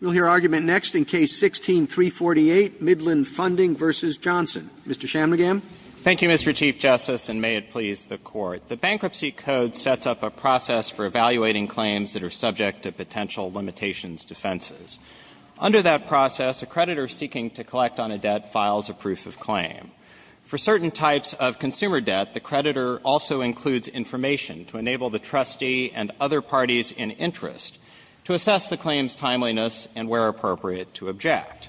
We'll hear argument next in Case 16-348, Midland Funding v. Johnson. Mr. Chamnagam. Thank you, Mr. Chief Justice, and may it please the Court. The Bankruptcy Code sets up a process for evaluating claims that are subject to potential limitations defenses. Under that process, a creditor seeking to collect on a debt files a proof of claim. For certain types of consumer debt, the creditor also includes information to enable the trustee and other parties in interest to assess the claim's timeliness and where appropriate to object.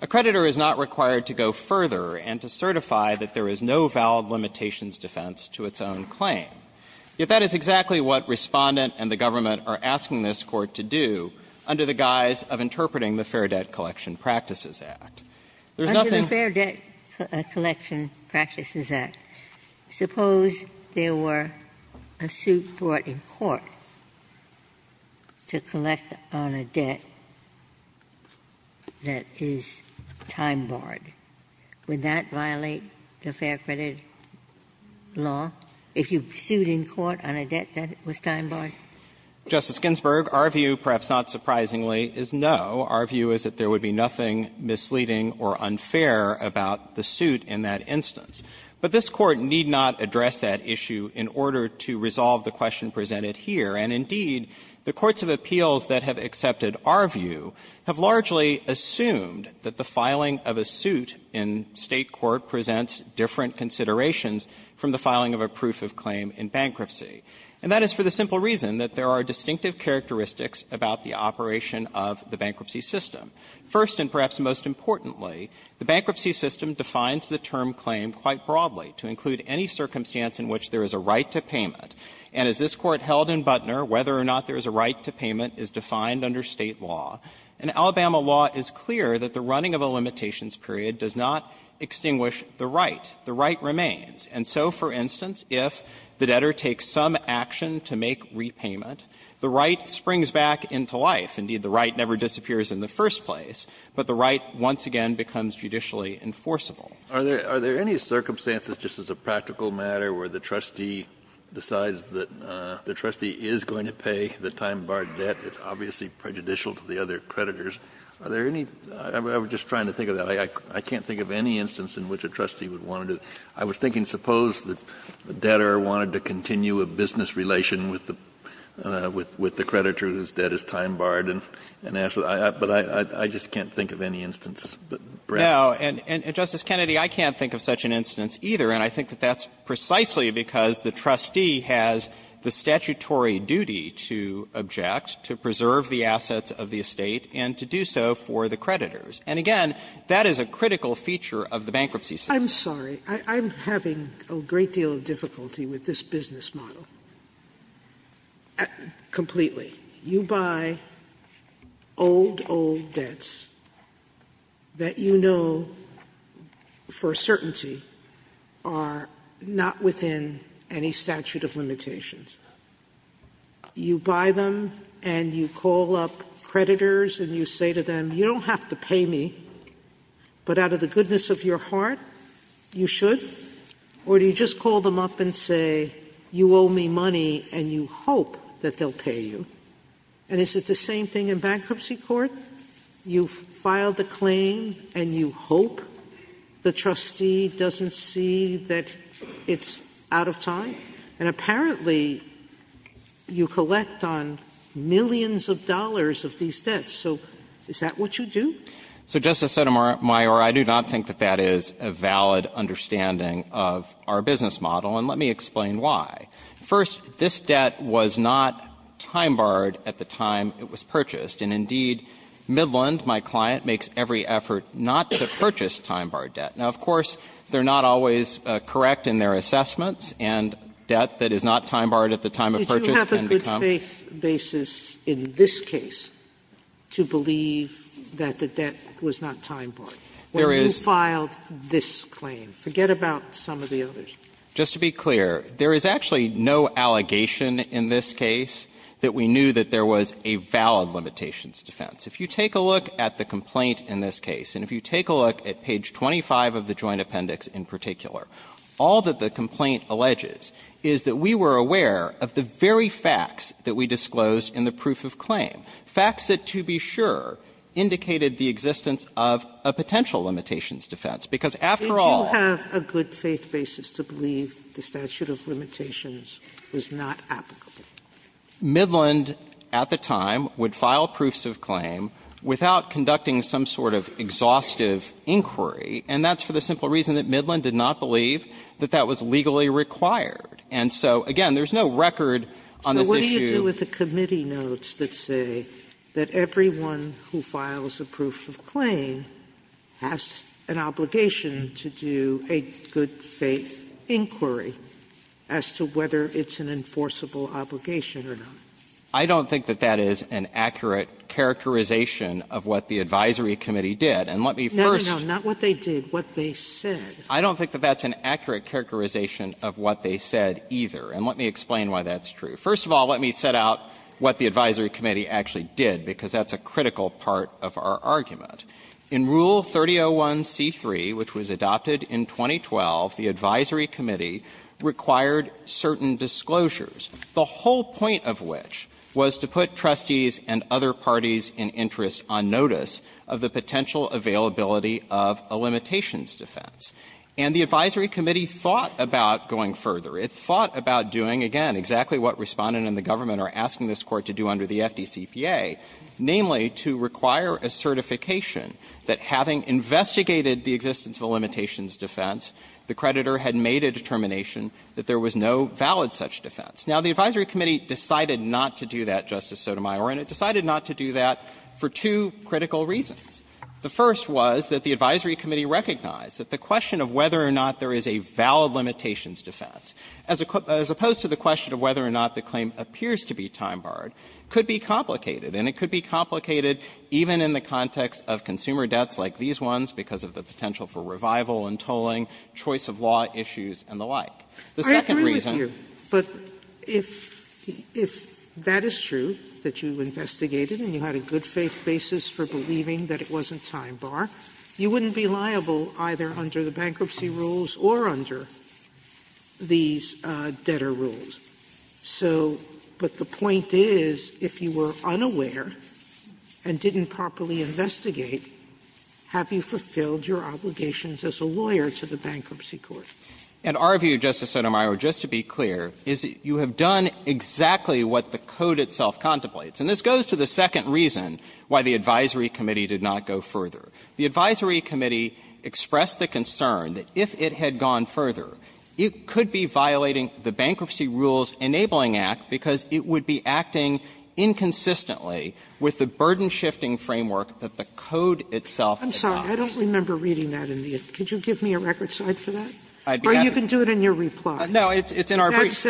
A creditor is not required to go further and to certify that there is no valid limitations defense to its own claim. Yet that is exactly what Respondent and the Government are asking this Court to do under the guise of interpreting the Fair Debt Collection Practices Act. There's nothing — Ginsburg. If you sued in court to collect on a debt that is time barred, would that violate the fair credit law? If you sued in court on a debt that was time barred? Chamnagam. Justice Ginsburg, our view, perhaps not surprisingly, is no. Our view is that there would be nothing misleading or unfair about the suit in that instance. But this the courts of appeals that have accepted our view have largely assumed that the filing of a suit in State court presents different considerations from the filing of a proof of claim in bankruptcy. And that is for the simple reason that there are distinctive characteristics about the operation of the bankruptcy system. First, and perhaps most importantly, the bankruptcy system defines the term claim quite broadly to include any circumstance in which there is a right to payment. And as this Court held in Buttner, whether or not there is a right to payment is defined under State law. And Alabama law is clear that the running of a limitations period does not extinguish the right. The right remains. And so, for instance, if the debtor takes some action to make repayment, the right springs back into life. Indeed, the right never disappears in the first place, but the right once again becomes judicially enforceable. Kennedy. Are there any circumstances, just as a practical matter, where the trustee decides that the trustee is going to pay the time-barred debt? It's obviously prejudicial to the other creditors. Are there any — I'm just trying to think of that. I can't think of any instance in which a trustee would want to — I was thinking, suppose that the debtor wanted to continue a business relation with the creditor whose debt is time-barred and asked — but I just can't think of any instance. Now, and, Justice Kennedy, I can't think of such an instance, either, and I think that that's precisely because the trustee has the statutory duty to object, to preserve the assets of the estate, and to do so for the creditors. And again, that is a critical feature of the bankruptcy system. Sotomayor, I'm sorry. I'm having a great deal of difficulty with this business model, completely. You buy old, old debts that you know for a certainty are not within any statute of limitations. You buy them and you call up creditors and you say to them, you don't have to pay me, but out of the goodness of your heart, you should? Or do you just call them up and say, you owe me money, and you hope that they'll pay you? And is it the same thing in bankruptcy court? You file the claim and you hope the trustee doesn't see that it's out of time? And apparently, you collect on millions of dollars of these debts. So is that what you do? So, Justice Sotomayor, I do not think that that is a valid understanding of our business model, and let me explain why. First, this debt was not time-barred at the time it was purchased, and indeed, Midland, my client, makes every effort not to purchase time-barred debt. Now, of course, they're not always correct in their assessments, and debt that is not time-barred at the time of purchase can become. Sotomayor, did you have a good faith basis in this case to believe that the debt was not time-barred? There is. When you filed this claim? Forget about some of the others. Just to be clear, there is actually no allegation in this case that we knew that there was a valid limitations defense. If you take a look at the complaint in this case, and if you take a look at page 25 of the Joint Appendix in particular, all that the complaint alleges is that we were aware of the very facts that we disclosed in the proof of claim, facts that, to be sure, indicated the existence of a potential limitations defense. Because, after all Did you have a good faith basis to believe the statute of limitations was not applicable? Midland, at the time, would file proofs of claim without conducting some sort of exhaustive inquiry, and that's for the simple reason that Midland did not believe that that was legally required. And so, again, there's no record on this issue. So what do you do with the committee notes that say that everyone who files a proof of claim has an obligation to do a good faith inquiry as to whether it's an enforceable obligation or not? I don't think that that is an accurate characterization of what the advisory committee did. And let me first No, no, no. Not what they did, what they said. I don't think that that's an accurate characterization of what they said either. And let me explain why that's true. First of all, let me set out what the advisory committee actually did, because that's a critical part of our argument. In Rule 3001c3, which was adopted in 2012, the advisory committee required certain disclosures, the whole point of which was to put trustees and other parties in interest on notice of the potential availability of a limitations defense. And the advisory committee thought about going further. It thought about doing, again, exactly what Respondent and the government are asking this Court to do under the FDCPA, namely, to require a certification that, having investigated the existence of a limitations defense, the creditor had made a determination that there was no valid such defense. Now, the advisory committee decided not to do that, Justice Sotomayor, and it decided not to do that for two critical reasons. The first was that the advisory committee recognized that the question of whether or not there is a valid limitations defense, as opposed to the question of whether or not the claim appears to be time-barred, could be complicated, and it could be complicated even in the context of consumer debts like these ones because of the potential for revival and tolling, choice of law issues, and the like. The second reason was that the advisory committee decided not to do that, and it decided not to do that for two critical reasons, as opposed to the question of whether or not there is a valid limitations defense, as opposed to the question of whether or not there is a valid limitations defense. So, but the point is, if you were unaware and didn't properly investigate, have you fulfilled your obligations as a lawyer to the bankruptcy court? And our view, Justice Sotomayor, just to be clear, is that you have done exactly what the code itself contemplates. And this goes to the second reason why the advisory committee did not go further. The advisory committee expressed the concern that if it had gone further, it could be violating the Bankruptcy Rules Enabling Act, because it would be acting inconsistently with the burden-shifting framework that the code itself adopts. Sotomayor, I'm sorry, I don't remember reading that in the end. Could you give me a record slide for that? Or you can do it in your reply. No, it's in our brief.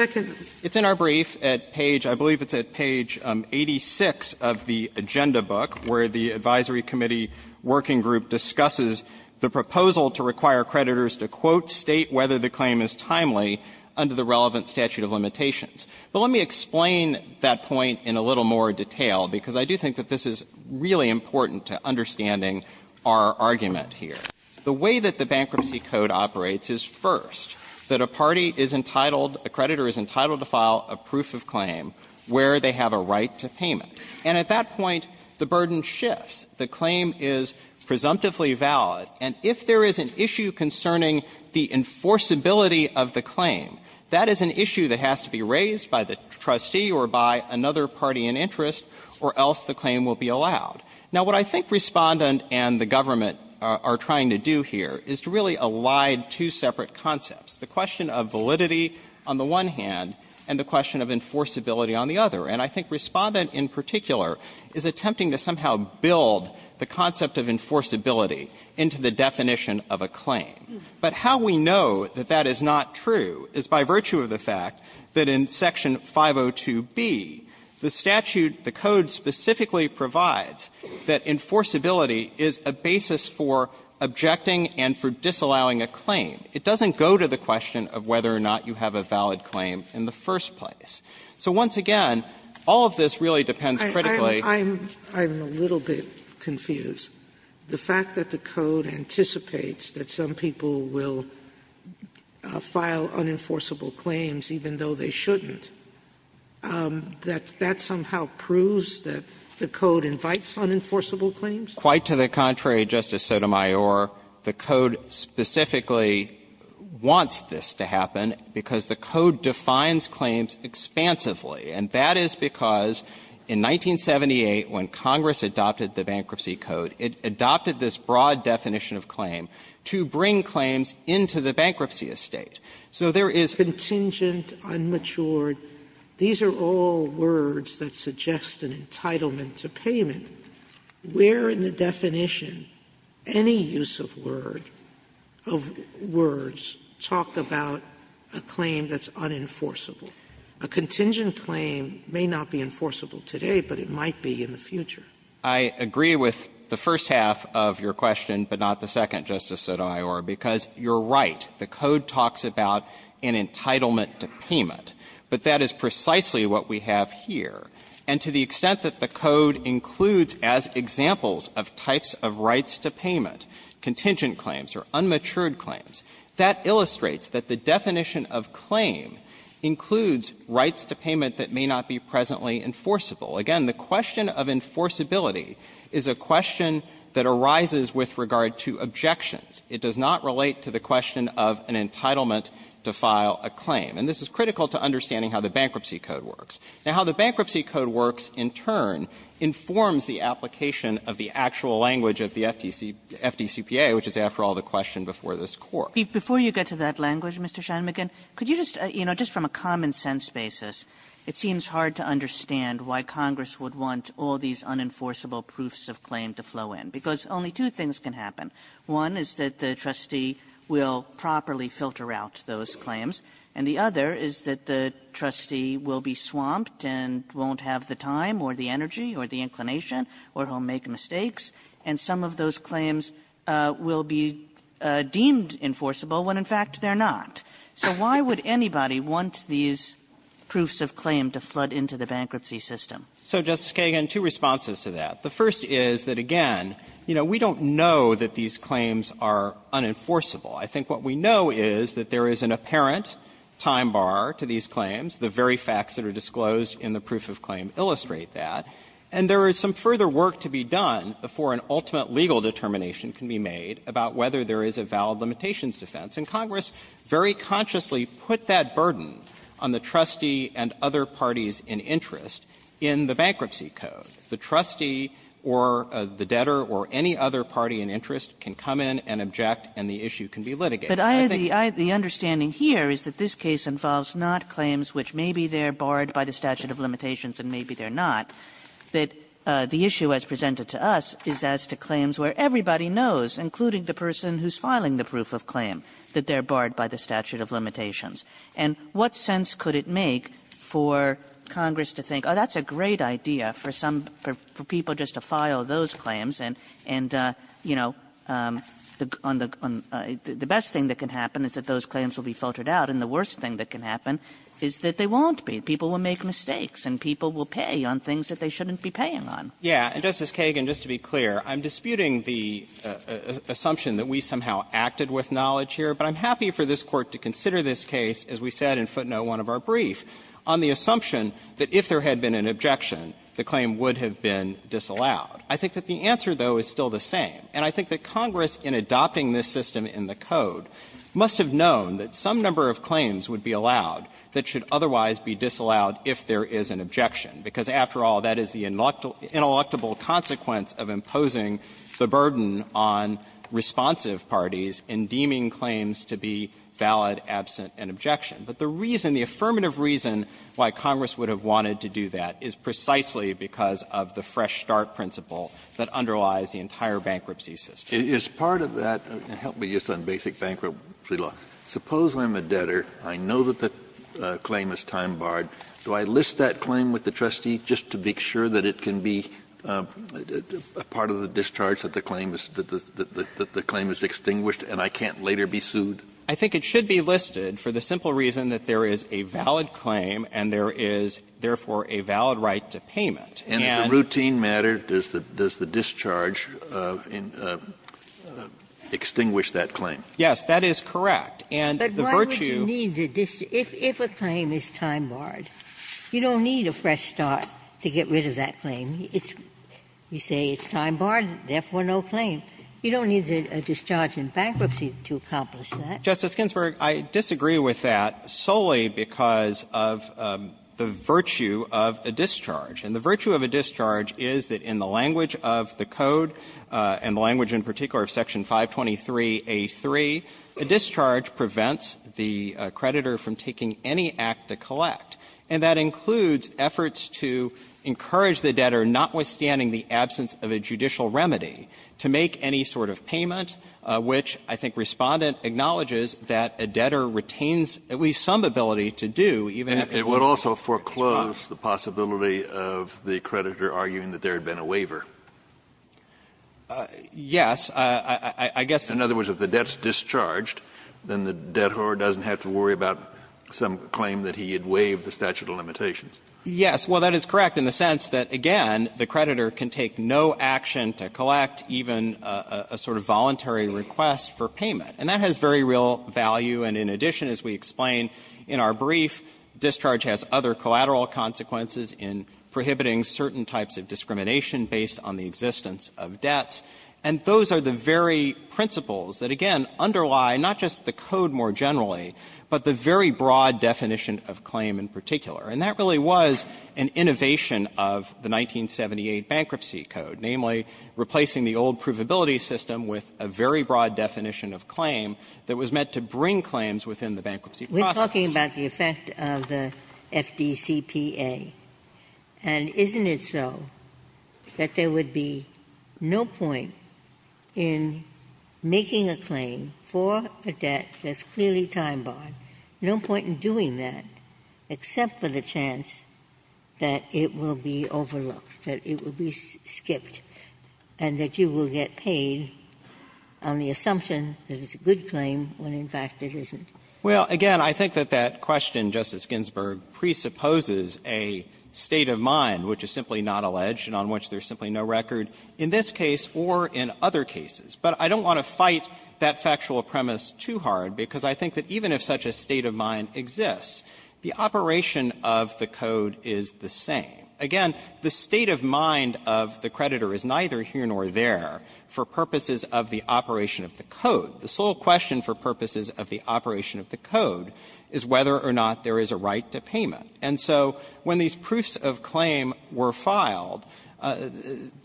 It's in our brief at page, I believe it's at page 86 of the agenda book, where the advisory committee working group discusses the proposal to require creditors to, quote, state whether the claim is timely under the relevant statute of limitations. But let me explain that point in a little more detail, because I do think that this is really important to understanding our argument here. The way that the Bankruptcy Code operates is, first, that a party is entitled – a creditor is entitled to file a proof of claim where they have a right to payment. And at that point, the burden shifts. The claim is presumptively valid. And if there is an issue concerning the enforceability of the claim, that is an issue that has to be raised by the trustee or by another party in interest, or else the claim will be allowed. Now, what I think Respondent and the government are trying to do here is to really elide two separate concepts, the question of validity on the one hand and the question of enforceability on the other. And I think Respondent in particular is attempting to somehow build the concept of enforceability into the definition of a claim. But how we know that that is not true is by virtue of the fact that in Section 502b, the statute, the code specifically provides that enforceability is a basis for objecting and for disallowing a claim. It doesn't go to the question of whether or not you have a valid claim in the first place. So once again, all of this really depends critically on the fact that the claim is valid, the fact that the code anticipates that some people will file unenforceable claims even though they shouldn't, that that somehow proves that the code invites unenforceable claims? Quite to the contrary, Justice Sotomayor, the code specifically wants this to happen because the code defines claims expansively. And that is because in 1978, when Congress adopted the Bankruptcy Code, it adopted this broad definition of claim to bring claims into the bankruptcy estate. So there is contingent, unmatured, these are all words that suggest an entitlement to payment, where in the definition any use of word, of words, talk about a claim that's unenforceable. A contingent claim may not be enforceable today, but it might be in the future. I agree with the first half of your question, but not the second, Justice Sotomayor, because you're right. The code talks about an entitlement to payment, but that is precisely what we have here. And to the extent that the code includes as examples of types of rights to payment contingent claims or unmatured claims, that illustrates that the definition of claim includes rights to payment that may not be presently enforceable. Again, the question of enforceability is a question that arises with regard to objections. It does not relate to the question of an entitlement to file a claim. And this is critical to understanding how the Bankruptcy Code works. Now, how the Bankruptcy Code works, in turn, informs the application of the actual language of the FDC, FDCPA, which is, after all, the question before this Court. Kagan. Kagan. Kagan. Before you get to that language, Mr. Scheinmcgen, could you just, you know, just from a common-sense basis, it seems hard to understand why Congress would want all these unenforceable proofs of claim to flow in, because only two things can happen. One is that the trustee will properly filter out those claims, and the other is that the trustee will be swamped and won't have the time or the energy or the inclination or he'll make mistakes. And some of those claims will be deemed enforceable when, in fact, they're not. So why would anybody want these proofs of claim to flood into the bankruptcy system? So, Justice Kagan, two responses to that. The first is that, again, you know, we don't know that these claims are unenforceable. I think what we know is that there is an apparent time bar to these claims. The very facts that are disclosed in the proof of claim illustrate that. And there is some further work to be done before an ultimate legal determination can be made about whether there is a valid limitations defense. And Congress very consciously put that burden on the trustee and other parties in interest in the bankruptcy code. The trustee or the debtor or any other party in interest can come in and object and the issue can be litigated. I think the case involves not claims which maybe they're barred by the statute of limitations and maybe they're not, that the issue as presented to us is as to claims where everybody knows, including the person who's filing the proof of claim, that they're barred by the statute of limitations. And what sense could it make for Congress to think, oh, that's a great idea for some of the people just to file those claims and, you know, the best thing that can happen is that those claims will be filtered out, and the worst thing that can happen is that they won't be. People will make mistakes and people will pay on things that they shouldn't be paying on. Shanmugamer. Yeah. And, Justice Kagan, just to be clear, I'm disputing the assumption that we somehow acted with knowledge here, but I'm happy for this Court to consider this case, as we said in footnote 1 of our brief, on the assumption that if there had been an objection, the claim would have been disallowed. I think that the answer, though, is still the same. And I think that Congress, in adopting this system in the code, must have known that some number of claims would be allowed that should otherwise be disallowed if there is an objection, because, after all, that is the ineluctable consequence of imposing the burden on responsive parties in deeming claims to be valid, absent, and objection. But the reason, the affirmative reason why Congress would have wanted to do that is precisely because of the fresh start principle that underlies the entire bankruptcy system. Kennedy, is part of that, and help me just on basic bankruptcy law, suppose I'm a debtor, I know that the claim is time-barred, do I list that claim with the trustee just to make sure that it can be a part of the discharge, that the claim is extinguished and I can't later be sued? I think it should be listed for the simple reason that there is a valid claim and there is, therefore, a valid right to payment. And the routine matter, does the discharge extinguish that claim? Yes, that is correct. And the virtue of the discharge is that the claim is time-barred. You don't need a fresh start to get rid of that claim. You say it's time-barred, therefore no claim. You don't need a discharge in bankruptcy to accomplish that. Justice Ginsburg, I disagree with that solely because of the virtue of a discharge. And the virtue of a discharge is that in the language of the Code, and the language in particular of Section 523A3, a discharge prevents the creditor from taking any act to collect. And that includes efforts to encourage the debtor, notwithstanding the absence of a judicial remedy, to make any sort of payment, which I think Respondent acknowledges that a debtor retains at least some ability to do, even if it's not. Kennedy, was the possibility of the creditor arguing that there had been a waiver? Yes, I guess the debtor doesn't have to worry about some claim that he had waived the statute of limitations. Yes. Well, that is correct in the sense that, again, the creditor can take no action to collect even a sort of voluntary request for payment. And that has very real value. And in addition, as we explained in our brief, discharge has other collateral consequences in prohibiting certain types of discrimination based on the existence of debts. And those are the very principles that, again, underlie not just the Code more generally, but the very broad definition of claim in particular. And that really was an innovation of the 1978 Bankruptcy Code, namely replacing the old provability system with a very broad definition of claim that was meant to bring claims within the bankruptcy process. We're talking about the effect of the FDCPA, and isn't it so that there would be no point in making a claim for a debt that's clearly time-barred, no point in doing that except for the chance that it will be overlooked, that it will be skipped, and that you will get paid on the assumption that it's a good claim when, in fact, it isn't? Well, again, I think that that question, Justice Ginsburg, presupposes a state of mind which is simply not alleged and on which there's simply no record in this case or in other cases. But I don't want to fight that factual premise too hard, because I think that even if such a state of mind exists, the operation of the Code is the same. Again, the state of mind of the creditor is neither here nor there for purposes of the operation of the Code. The sole question for purposes of the operation of the Code is whether or not there is a right to payment. And so when these proofs of claim were filed,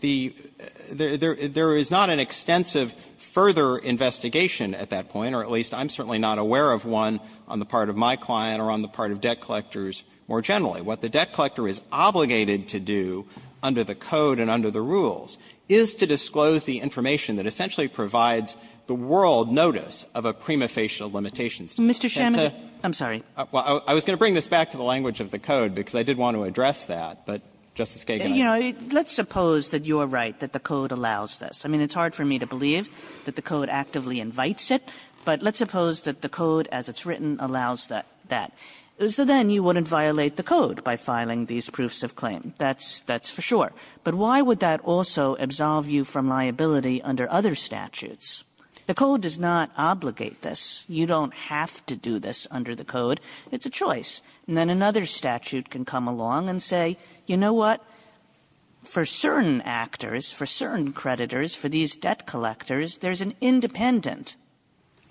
the — there is not an extensive further investigation at that point, or at least I'm certainly not aware of one on the part of my client or on the part of debt collectors more generally. What the debt collector is obligated to do under the Code and under the rules is to disclose the information that essentially provides the world notice of a prima facie limitation. Mr. Shamin, I'm sorry. Well, I was going to bring this back to the language of the Code, because I did want to address that. But, Justice Kagan, I don't know. You know, let's suppose that you're right, that the Code allows this. I mean, it's hard for me to believe that the Code actively invites it, but let's suppose that the Code, as it's written, allows that. So then you wouldn't violate the Code by filing these proofs of claim. That's for sure. But why would that also absolve you from liability under other statutes? The Code does not obligate this. You don't have to do this under the Code. It's a choice. And then another statute can come along and say, you know what, for certain actors, for certain creditors, for these debt collectors, there's an independent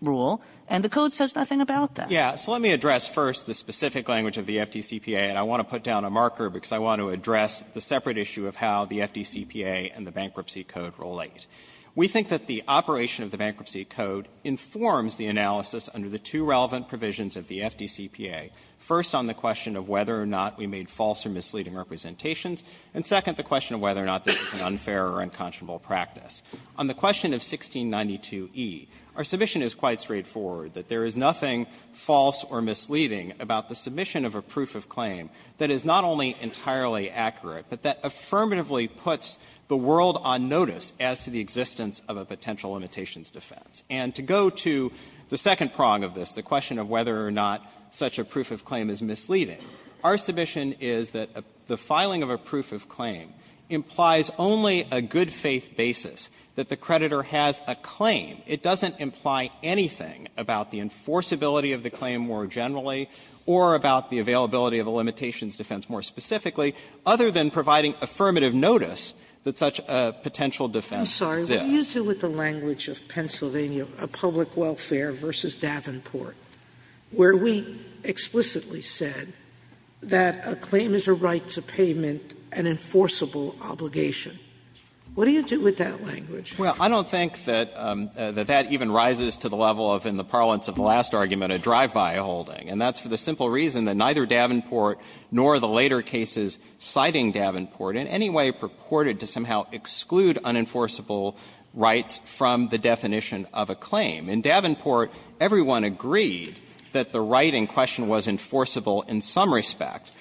rule, and the Code says nothing about that. So let me address first the specific language of the FDCPA, and I want to put down a marker because I want to address the separate issue of how the FDCPA and the Bankruptcy Code relate. We think that the operation of the Bankruptcy Code informs the analysis under the two relevant provisions of the FDCPA, first on the question of whether or not we made false or misleading representations, and second, the question of whether or not this is an unfair or unconscionable practice. On the question of 1692e, our submission is quite straightforward, that there is nothing false or misleading about the submission of a proof of claim that is not only entirely accurate, but that affirmatively puts the world on notice as to the existence of a potential limitations defense. And to go to the second prong of this, the question of whether or not such a proof of claim is misleading, our submission is that the filing of a proof of claim implies only a good-faith basis, that the creditor has a claim. It doesn't imply anything about the enforceability of the claim more generally or about the availability of a limitations defense more specifically, other than providing affirmative notice that such a potential defense exists. Sotomayor, what do you do with the language of Pennsylvania Public Welfare v. Davenport, where we explicitly said that a claim is a right to payment, an enforceable obligation? What do you do with that language? Shanmugam. Well, I don't think that that even rises to the level of in the parlance of the last argument a drive-by holding. And that's for the simple reason that neither Davenport nor the later cases citing Davenport in any way purported to somehow exclude unenforceable rights from the definition of a claim. In Davenport, everyone agreed that the right in question was enforceable in some way, but the fact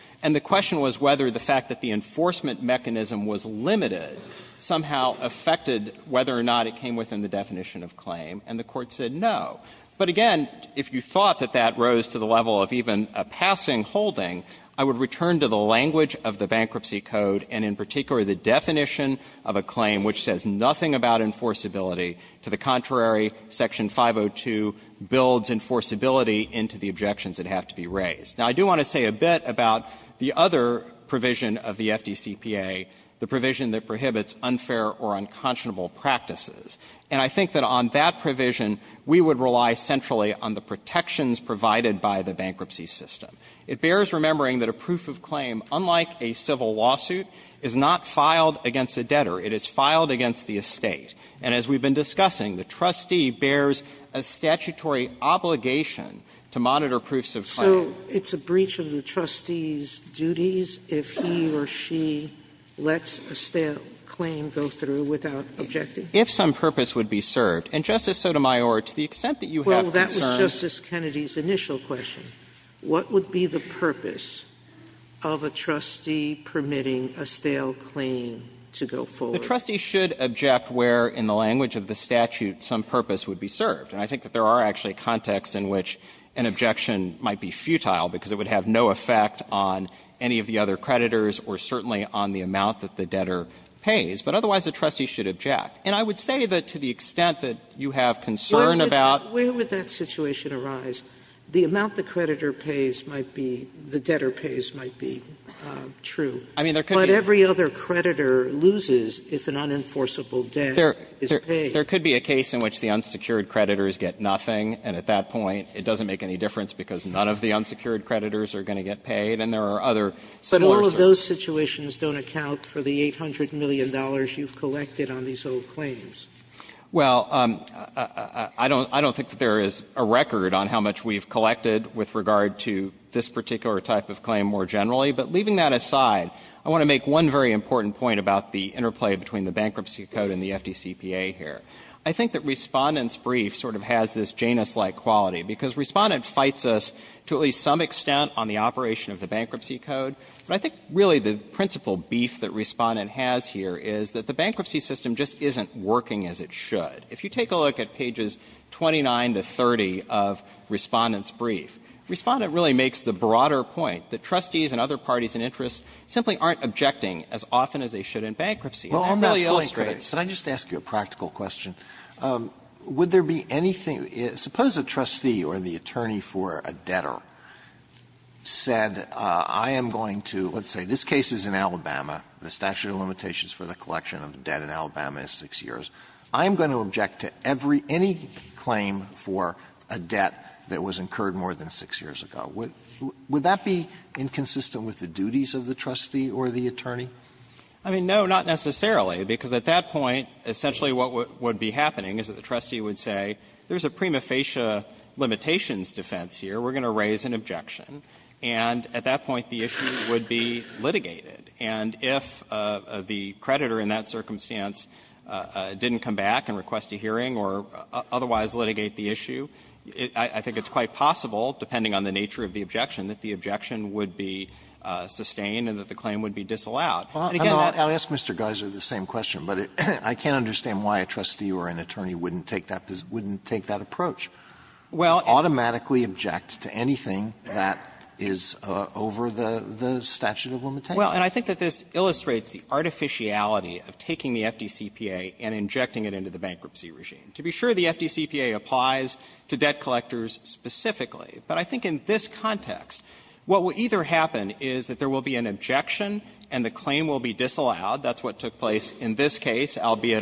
that it was limited somehow affected whether or not it came within the definition of claim, and the Court said no. But again, if you thought that that rose to the level of even a passing holding, I would return to the language of the Bankruptcy Code and in particular the definition of a claim which says nothing about enforceability. To the contrary, Section 502 builds enforceability into the objections that have to be raised. Now, I do want to say a bit about the other provision of the FDCPA, the provision that prohibits unfair or unconscionable practices. And I think that on that provision, we would rely centrally on the protections provided by the bankruptcy system. It bears remembering that a proof of claim, unlike a civil lawsuit, is not filed against a debtor. It is filed against the estate. And as we've been discussing, the trustee bears a statutory obligation to monitor proofs of claim. Sotomayor, to the extent that you have concern. Sotomayor, if he or she lets a stale claim go through without objecting? If some purpose would be served. And, Justice Sotomayor, to the extent that you have concern. Well, that was Justice Kennedy's initial question. What would be the purpose of a trustee permitting a stale claim to go forward? The trustee should object where in the language of the statute some purpose would be served. And I think that there are actually contexts in which an objection might be futile, because it would have no effect on any of the other creditors or certainly on the amount that the debtor pays. But otherwise, the trustee should object. And I would say that to the extent that you have concern about. Sotomayor, where would that situation arise? The amount the creditor pays might be the debtor pays might be true. I mean, there could be. But every other creditor loses if an unenforceable debt is paid. There could be a case in which the unsecured creditors get nothing, and at that point it doesn't make any difference because none of the unsecured creditors are going to get paid. And there are other similar situations. Sotomayor, but all of those situations don't account for the $800 million you've collected on these old claims. Well, I don't think that there is a record on how much we've collected with regard to this particular type of claim more generally. But leaving that aside, I want to make one very important point about the interplay between the Bankruptcy Code and the FDCPA here. I think that Respondent's brief sort of has this Janus-like quality because Respondent fights us to at least some extent on the operation of the Bankruptcy Code. But I think really the principal beef that Respondent has here is that the bankruptcy system just isn't working as it should. If you take a look at pages 29 to 30 of Respondent's brief, Respondent really makes the broader point that trustees and other parties in interest simply aren't objecting as often as they should in bankruptcy. And that illustrates. Alitoro, could I just ask you a practical question? Would there be anything – suppose a trustee or the attorney for a debtor said I am going to – let's say this case is in Alabama, the statute of limitations for the collection of debt in Alabama is 6 years. I am going to object to every – any claim for a debt that was incurred more than 6 years ago. Would that be inconsistent with the duties of the trustee or the attorney? I mean, no, not necessarily, because at that point, essentially what would be happening is that the trustee would say there is a prima facie limitations defense here, we are going to raise an objection, and at that point the issue would be litigated. And if the creditor in that circumstance didn't come back and request a hearing or otherwise litigate the issue, I think it's quite possible, depending on the nature of the objection, that the objection would be sustained and that the claim would be disallowed. And again, that's the case. Alitoso, I'll ask Mr. Geiser the same question, but I can't understand why a trustee or an attorney wouldn't take that approach, would automatically object to anything that is over the statute of limitations. Well, and I think that this illustrates the artificiality of taking the FDCPA and injecting it into the bankruptcy regime. To be sure, the FDCPA applies to debt collectors specifically, but I think in this case, albeit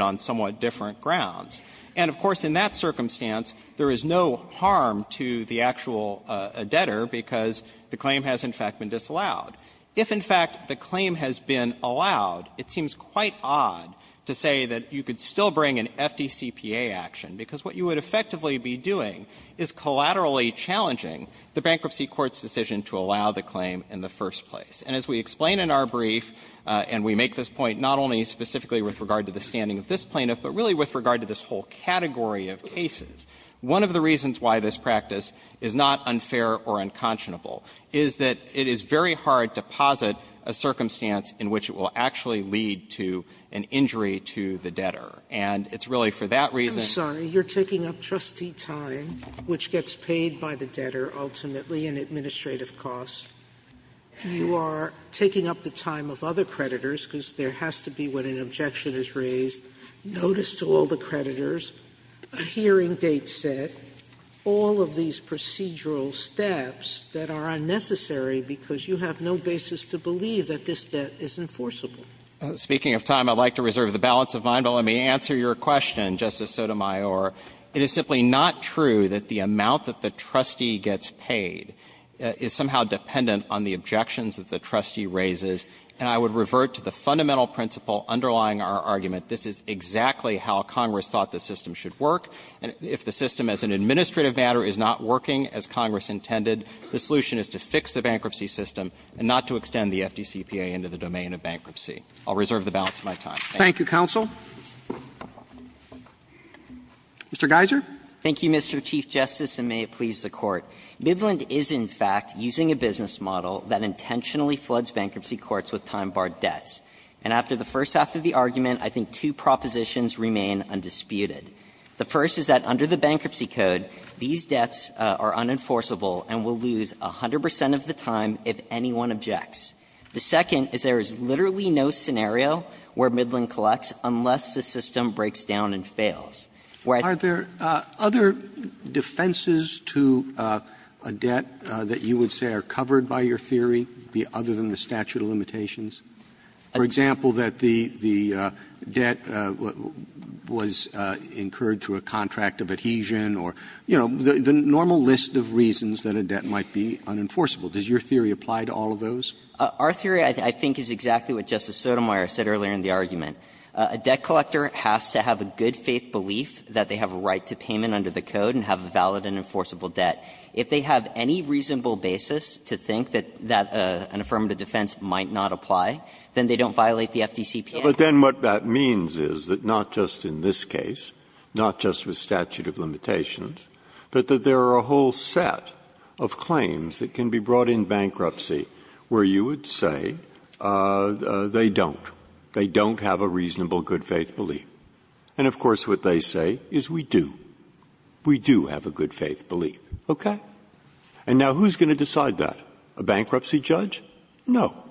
on somewhat different grounds, and, of course, in that circumstance, there is no harm to the actual debtor because the claim has, in fact, been disallowed. If, in fact, the claim has been allowed, it seems quite odd to say that you could still bring an FDCPA action, because what you would effectively be doing is collaterally challenging the bankruptcy court's decision to allow the claim in the first place. And as we explain in our brief, and we make this point not only specifically with regard to the standing of this plaintiff, but really with regard to this whole category of cases, one of the reasons why this practice is not unfair or unconscionable is that it is very hard to posit a circumstance in which it will actually lead to an injury to the debtor. And it's really for that reason you're taking up trustee time, which gets paid by the debtor ultimately in administrative costs. You are taking up the time of other creditors, because there has to be when an objection is raised, notice to all the creditors, a hearing date set, all of these procedural steps that are unnecessary because you have no basis to believe that this debt is enforceable. Speaking of time, I would like to reserve the balance of my mind, but let me answer your question, Justice Sotomayor. It is simply not true that the amount that the trustee gets paid is somehow dependent on the objections that the trustee raises, and I would revert to the fundamental principle underlying our argument. This is exactly how Congress thought the system should work, and if the system as an administrative matter is not working as Congress intended, the solution is to fix the bankruptcy system and not to extend the FDCPA into the domain of bankruptcy. I'll reserve the balance of my time. Thank you. Roberts. Thank you, counsel. Mr. Geiser. Geiser. Thank you, Mr. Chief Justice, and may it please the Court. Midland is, in fact, using a business model that intentionally floods bankruptcy courts with time-barred debts. And after the first half of the argument, I think two propositions remain undisputed. The first is that under the Bankruptcy Code, these debts are unenforceable and will lose 100 percent of the time if anyone objects. The second is there is literally no scenario where Midland collects unless the system breaks down and fails. 100 percent of the time if anyone objects. Roberts. Are there other defenses to a debt that you would say are covered by your theory other than the statute of limitations? For example, that the debt was incurred through a contract of adhesion or, you know, the normal list of reasons that a debt might be unenforceable. Does your theory apply to all of those? Our theory, I think, is exactly what Justice Sotomayor said earlier in the argument. A debt collector has to have a good-faith belief that they have a right to payment under the Code and have a valid and enforceable debt. If they have any reasonable basis to think that an affirmative defense might not apply, then they don't violate the FDCP Act. But then what that means is that not just in this case, not just with statute of limitations, but that there are a whole set of claims that can be brought in bankruptcy where you would say they don't. They don't have a reasonable good-faith belief. And, of course, what they say is, we do. We do have a good-faith belief, okay? And now who's going to decide that? A bankruptcy judge? No.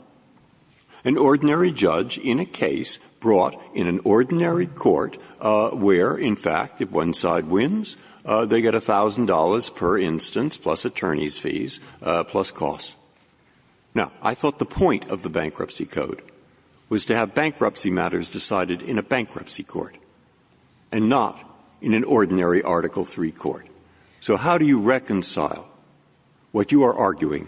An ordinary judge in a case brought in an ordinary court where, in fact, if one side wins, they get $1,000 per instance, plus attorney's fees, plus costs. Now, I thought the point of the Bankruptcy Code was to have bankruptcy matters decided in a bankruptcy court and not in an ordinary Article III court. So how do you reconcile what you are arguing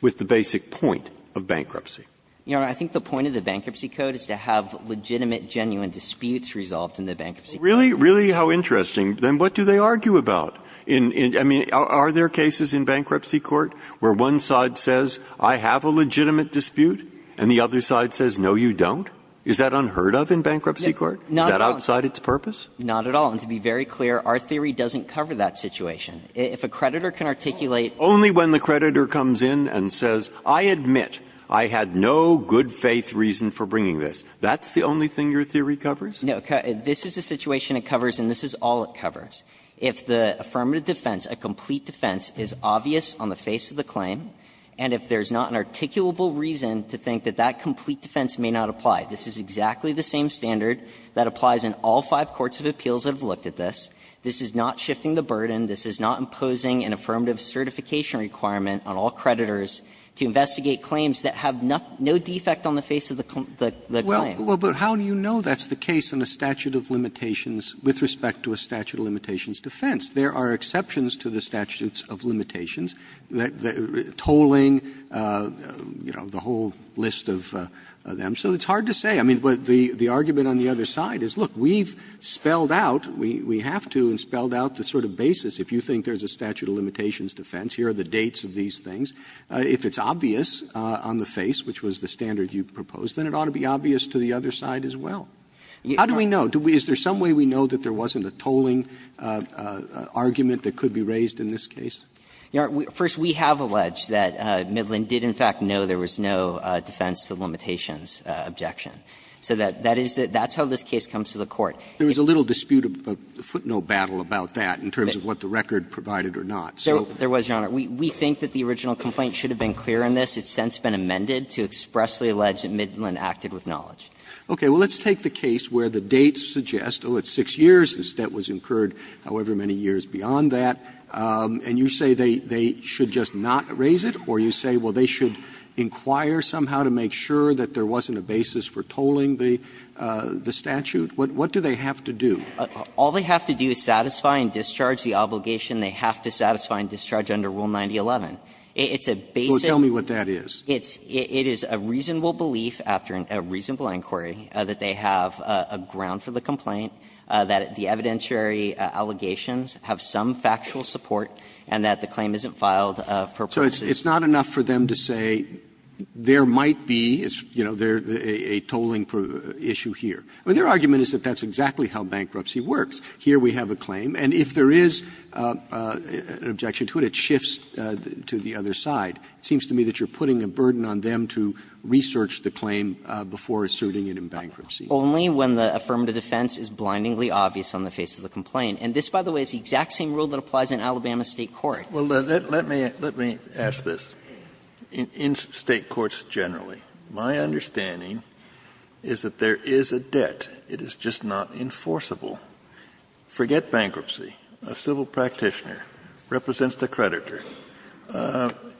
with the basic point of bankruptcy? You know, I think the point of the Bankruptcy Code is to have legitimate, genuine disputes resolved in the Bankruptcy Code. Well, really, really, how interesting. Then what do they argue about? I mean, are there cases in bankruptcy court where one side says, I have a legitimate dispute, and the other side says, no, you don't? Is that unheard of in bankruptcy court? Is that outside its purpose? Not at all. And to be very clear, our theory doesn't cover that situation. If a creditor can articulate the fact that the bankruptcy judge is a good-faith firm of defense, a complete defense, is obvious on the face of the claim, and if there's not an articulable reason to think that that complete defense may not apply, this is exactly the same standard that applies in all five courts of appeals that have looked at this. This is not shifting the burden. This is not imposing an affirmative certification requirement on all creditors to investigate claims that have no defect on the face of the claim. Roberts. Roberts. But how do you know that's the case in a statute of limitations with respect to a statute of limitations defense? There are exceptions to the statutes of limitations, tolling, you know, the whole list of them. So it's hard to say. I mean, the argument on the other side is, look, we've spelled out, we have to, and spelled out the sort of basis. If you think there's a statute of limitations defense, here are the dates of these things. If it's obvious on the face, which was the standard you proposed, then it ought to be obvious to the other side as well. How do we know? Is there some way we know that there wasn't a tolling argument that could be raised in this case? First, we have alleged that Midland did in fact know there was no defense of limitations objection. So that is how this case comes to the Court. There was a little dispute, a footnote battle about that in terms of what the record provided or not. There was, Your Honor. We think that the original complaint should have been clear in this. It's since been amended to expressly allege that Midland acted with knowledge. Roberts Okay. Well, let's take the case where the dates suggest, oh, it's 6 years, this debt was incurred, however many years beyond that, and you say they should just not raise it, or you say, well, they should inquire somehow to make sure that there wasn't a basis for tolling the statute? What do they have to do? All they have to do is satisfy and discharge the obligation. They have to satisfy and discharge under Rule 9011. It's a basic. Well, tell me what that is. It's a reasonable belief after a reasonable inquiry that they have a ground for the complaint, that the evidentiary allegations have some factual support, and that the claim isn't filed for purposes of the statute. Roberts So it's not enough for them to say there might be, you know, a tolling issue here. Their argument is that that's exactly how bankruptcy works. Here we have a claim, and if there is an objection to it, it shifts to the other side. It seems to me that you're putting a burden on them to research the claim before suiting it in bankruptcy. Only when the affirmative defense is blindingly obvious on the face of the complaint. And this, by the way, is the exact same rule that applies in Alabama State court. Kennedy Well, let me ask this. In State courts generally, my understanding is that there is a debt. It is just not enforceable. Forget bankruptcy. A civil practitioner represents the creditor.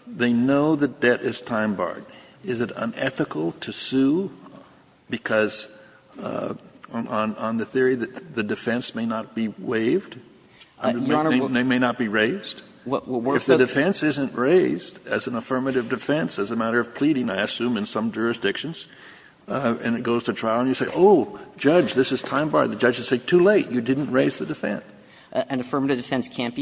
They know that debt is time-barred. Is it unethical to sue because on the theory that the defense may not be waived? They may not be raised? If the defense isn't raised as an affirmative defense, as a matter of pleading, I assume, in some jurisdictions, and it goes to trial, and you say, oh, judge, this is time-barred, the judge will say, too late, you didn't raise the defense. An affirmative defense can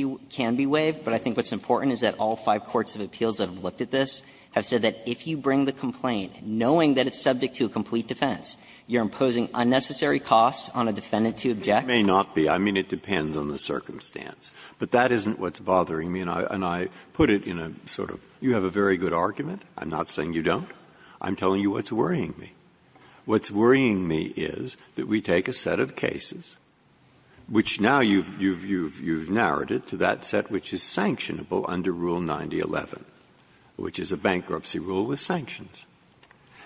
be waived, but I think what's important is that all five courts of appeals that have looked at this have said that if you bring the complaint knowing that it's subject to a complete defense, you're imposing unnecessary costs on a defendant to object. Breyer It may not be. I mean, it depends on the circumstance. But that isn't what's bothering me. And I put it in a sort of, you have a very good argument. I'm not saying you don't. I'm telling you what's worrying me. What's worrying me is that we take a set of cases, which now you've narrowed it to that set which is sanctionable under Rule 9011, which is a bankruptcy rule with sanctions.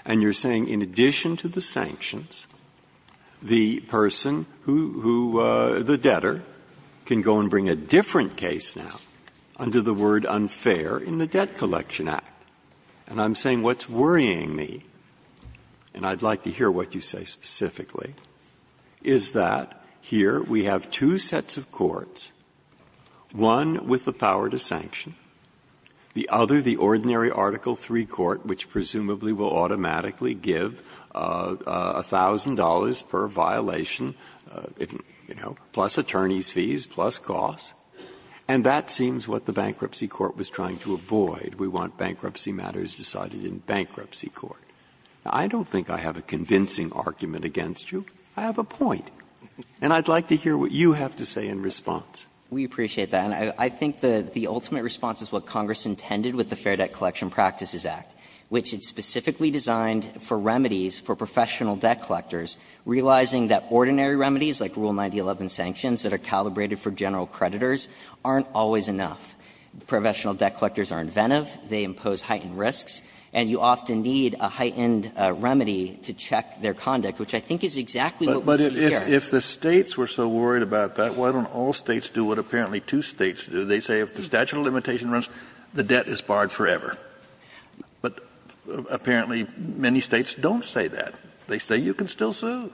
And you're saying in addition to the sanctions, the person who the debtor can go and bring a different case now under the word unfair in the Debt Collection Act. And I'm saying what's worrying me, and I'd like to hear what you say specifically, is that here we have two sets of courts, one with the power to sanction, the other, the ordinary Article III court, which presumably will automatically give $1,000 per violation, you know, plus attorney's fees, plus costs. And that seems what the bankruptcy court was trying to avoid. We want bankruptcy matters decided in bankruptcy court. Now, I don't think I have a convincing argument against you. I have a point. And I'd like to hear what you have to say in response. We appreciate that. And I think the ultimate response is what Congress intended with the Fair Debt Collection Practices Act, which is specifically designed for remedies for professional debt collectors, realizing that ordinary remedies, like Rule 9011 sanctions that are calibrated for general creditors, aren't always enough. Professional debt collectors are inventive, they impose heightened risks, and you often need a heightened remedy to check their conduct, which I think is exactly what we see here. Kennedy, but if the States were so worried about that, why don't all States do what apparently two States do? They say if the statute of limitations runs, the debt is barred forever. But apparently many States don't say that. They say you can still sue.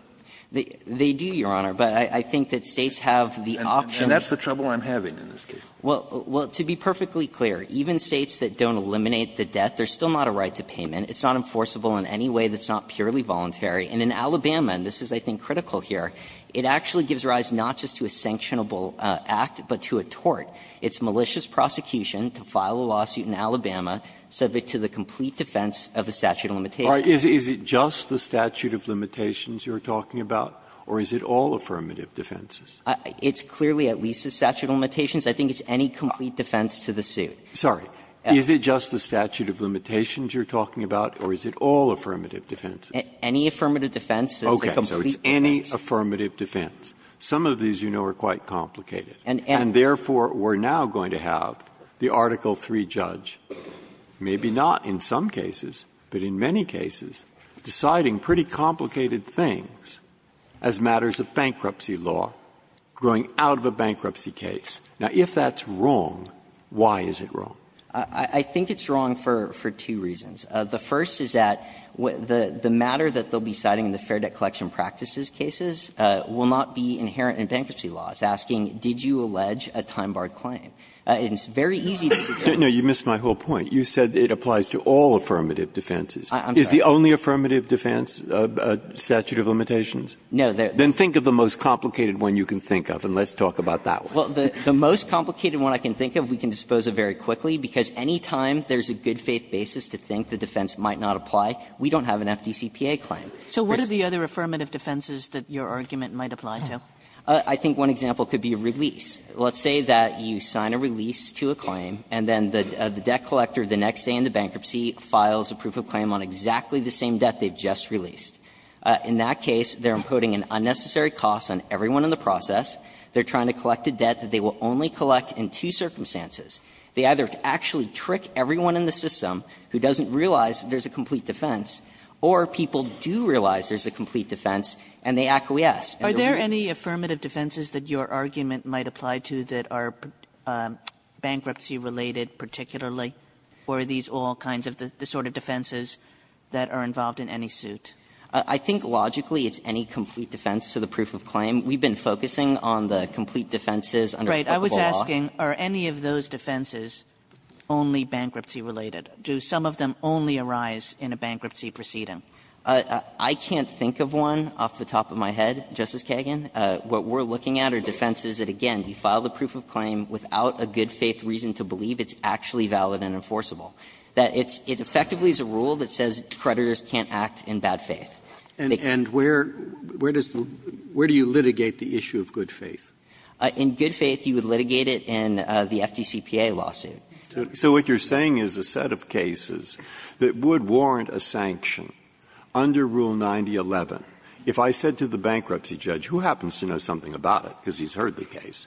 They do, Your Honor, but I think that States have the option. And that's the trouble I'm having in this case. Well, to be perfectly clear, even States that don't eliminate the debt, there's still not a right to payment. It's not enforceable in any way that's not purely voluntary. And in Alabama, and this is, I think, critical here, it actually gives rise not just to a sanctionable act, but to a tort. It's malicious prosecution to file a lawsuit in Alabama subject to the complete defense of the statute of limitations. Breyer, is it just the statute of limitations you're talking about, or is it all affirmative defenses? It's clearly at least the statute of limitations. I think it's any complete defense to the suit. Sorry. Is it just the statute of limitations you're talking about, or is it all affirmative defenses? Any affirmative defense. Okay. So it's any affirmative defense. Some of these, you know, are quite complicated. And therefore, we're now going to have the Article III judge, maybe not in some cases, but in many cases, deciding pretty complicated things as matters of bankruptcy law growing out of a bankruptcy case. Now, if that's wrong, why is it wrong? I think it's wrong for two reasons. The first is that the matter that they'll be citing in the Fair Debt Collection Practices cases will not be inherent in bankruptcy laws, asking did you allege a time-barred claim. It's very easy to do. No, you missed my whole point. You said it applies to all affirmative defenses. I'm sorry. Is the only affirmative defense a statute of limitations? No. Then think of the most complicated one you can think of, and let's talk about that one. Well, the most complicated one I can think of, we can dispose of very quickly, because any time there's a good-faith basis to think the defense might not apply, we don't have an FDCPA claim. So what are the other affirmative defenses that your argument might apply to? I think one example could be a release. Let's say that you sign a release to a claim, and then the debt collector the next day in the bankruptcy files a proof of claim on exactly the same debt they've just released. In that case, they're imposing an unnecessary cost on everyone in the process. They're trying to collect a debt that they will only collect in two circumstances. They either actually trick everyone in the system who doesn't realize there's a complete defense, or people do realize there's a complete defense, and they acquiesce. Are there any affirmative defenses that your argument might apply to that are bankruptcy-related particularly, or are these all kinds of the sort of defenses that are involved in any suit? I think logically it's any complete defense to the proof of claim. We've been focusing on the complete defenses under applicable law. Kagan. Are any of those defenses only bankruptcy-related? Do some of them only arise in a bankruptcy proceeding? I can't think of one off the top of my head, Justice Kagan. What we're looking at are defenses that, again, you file the proof of claim without a good-faith reason to believe it's actually valid and enforceable. It effectively is a rule that says creditors can't act in bad faith. And where does the – where do you litigate the issue of good faith? In good faith, you would litigate it in the FDCPA lawsuit. So what you're saying is a set of cases that would warrant a sanction under Rule 9011. If I said to the bankruptcy judge, who happens to know something about it, because he's heard the case?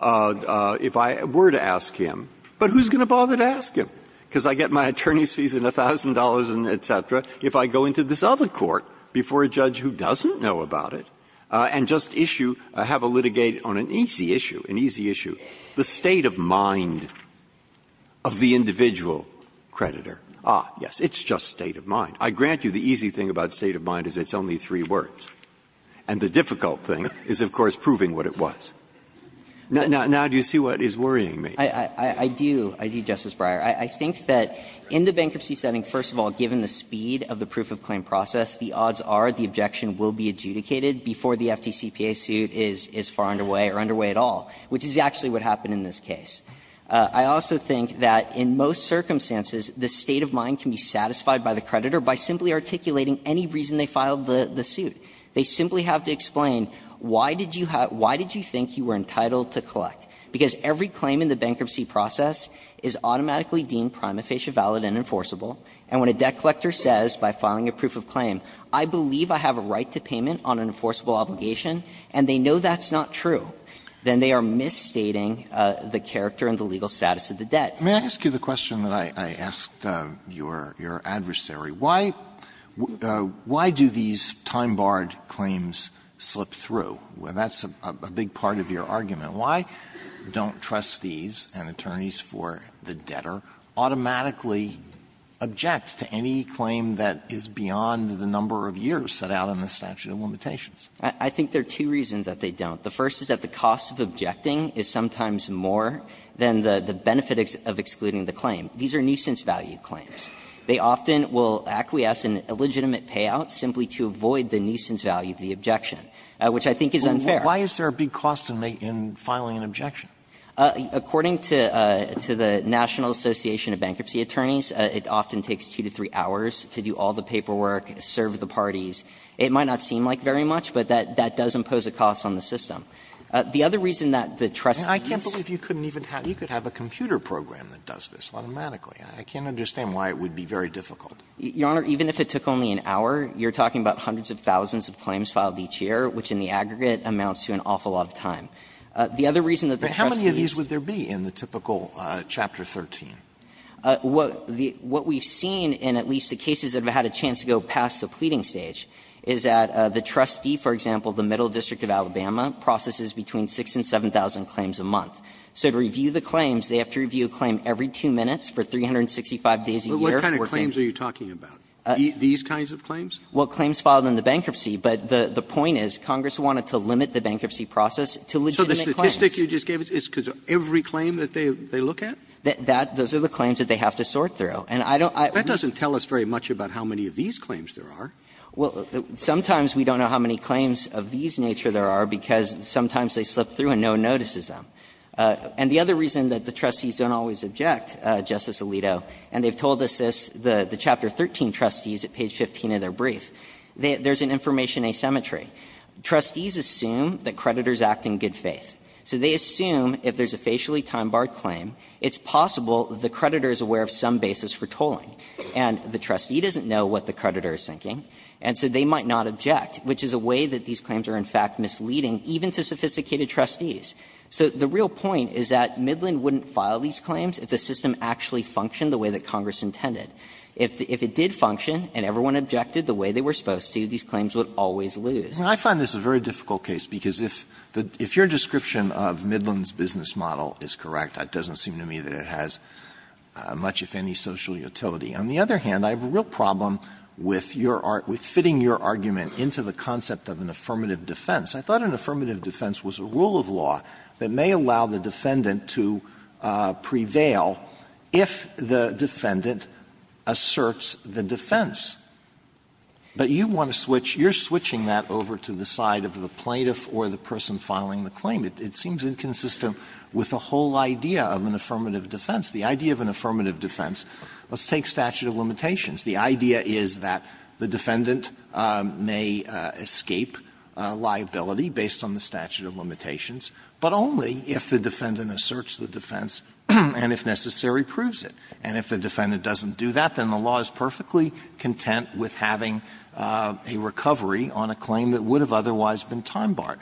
If I were to ask him, but who's going to bother to ask him? If I go into this other court before a judge who doesn't know about it and just issue – have a litigate on an easy issue, an easy issue, the state of mind of the individual creditor, ah, yes, it's just state of mind. I grant you the easy thing about state of mind is it's only three words. And the difficult thing is, of course, proving what it was. Now do you see what is worrying me? I do. I do, Justice Breyer. I think that in the bankruptcy setting, first of all, given the speed of the proof of claim process, the odds are the objection will be adjudicated before the FDCPA suit is far underway or underway at all, which is actually what happened in this case. I also think that in most circumstances, the state of mind can be satisfied by the creditor by simply articulating any reason they filed the suit. They simply have to explain why did you have – why did you think you were entitled to collect? Because every claim in the bankruptcy process is automatically deemed prima facie valid and enforceable, and when a debt collector says by filing a proof of claim, I believe I have a right to payment on an enforceable obligation, and they know that's not true, then they are misstating the character and the legal status of the debt. Alitoson May I ask you the question that I asked your adversary? Why do these time-barred claims slip through? And that's a big part of your argument. Why don't trustees and attorneys for the debtor automatically object to any claim that is beyond the number of years set out in the statute of limitations? I think there are two reasons that they don't. The first is that the cost of objecting is sometimes more than the benefit of excluding the claim. These are nuisance value claims. They often will acquiesce in illegitimate payouts simply to avoid the nuisance value of the objection, which I think is unfair. Alitoson Why is there a big cost in filing an objection? According to the National Association of Bankruptcy Attorneys, it often takes two to three hours to do all the paperwork, serve the parties. It might not seem like very much, but that does impose a cost on the system. The other reason that the trustees' I can't believe you couldn't even have you could have a computer program that does this automatically. I can't understand why it would be very difficult. Your Honor, even if it took only an hour, you're talking about hundreds of thousands of claims filed each year, which in the aggregate amounts to an awful lot of time. The other reason that the trustees' How many of these would there be in the typical Chapter 13? What we've seen in at least the cases that have had a chance to go past the pleading stage is that the trustee, for example, the Middle District of Alabama, processes between 6,000 and 7,000 claims a month. So to review the claims, they have to review a claim every two minutes for 365 days a year. Roberts What kind of claims are you talking about? These kinds of claims? Well, claims filed in the bankruptcy, but the point is Congress wanted to limit the bankruptcy process to legitimate claims. So the statistic you just gave us is because every claim that they look at? That those are the claims that they have to sort through. And I don't I That doesn't tell us very much about how many of these claims there are. Well, sometimes we don't know how many claims of these nature there are, because sometimes they slip through and no one notices them. And the other reason that the trustees don't always object, Justice Alito, and they've told us this, the Chapter 13 trustees at page 15 of their brief, there's an information asymmetry. Trustees assume that creditors act in good faith. So they assume if there's a facially time-barred claim, it's possible the creditor is aware of some basis for tolling, and the trustee doesn't know what the creditor is thinking, and so they might not object, which is a way that these claims are, in fact, misleading even to sophisticated trustees. So the real point is that Midland wouldn't file these claims if the system actually functioned the way that Congress intended. If it did function and everyone objected the way they were supposed to, these claims would always lose. Alito, I find this a very difficult case, because if your description of Midland's business model is correct, it doesn't seem to me that it has much, if any, social utility. On the other hand, I have a real problem with your argument, with fitting your argument into the concept of an affirmative defense. I thought an affirmative defense was a rule of law that may allow the defendant to prevail if the defendant asserts the defense. But you want to switch – you're switching that over to the side of the plaintiff or the person filing the claim. It seems inconsistent with the whole idea of an affirmative defense. The idea of an affirmative defense, let's take statute of limitations. The idea is that the defendant may escape liability based on the statute of limitations, but only if the defendant asserts the defense and, if necessary, proves it. And if the defendant doesn't do that, then the law is perfectly content with having a recovery on a claim that would have otherwise been time barred.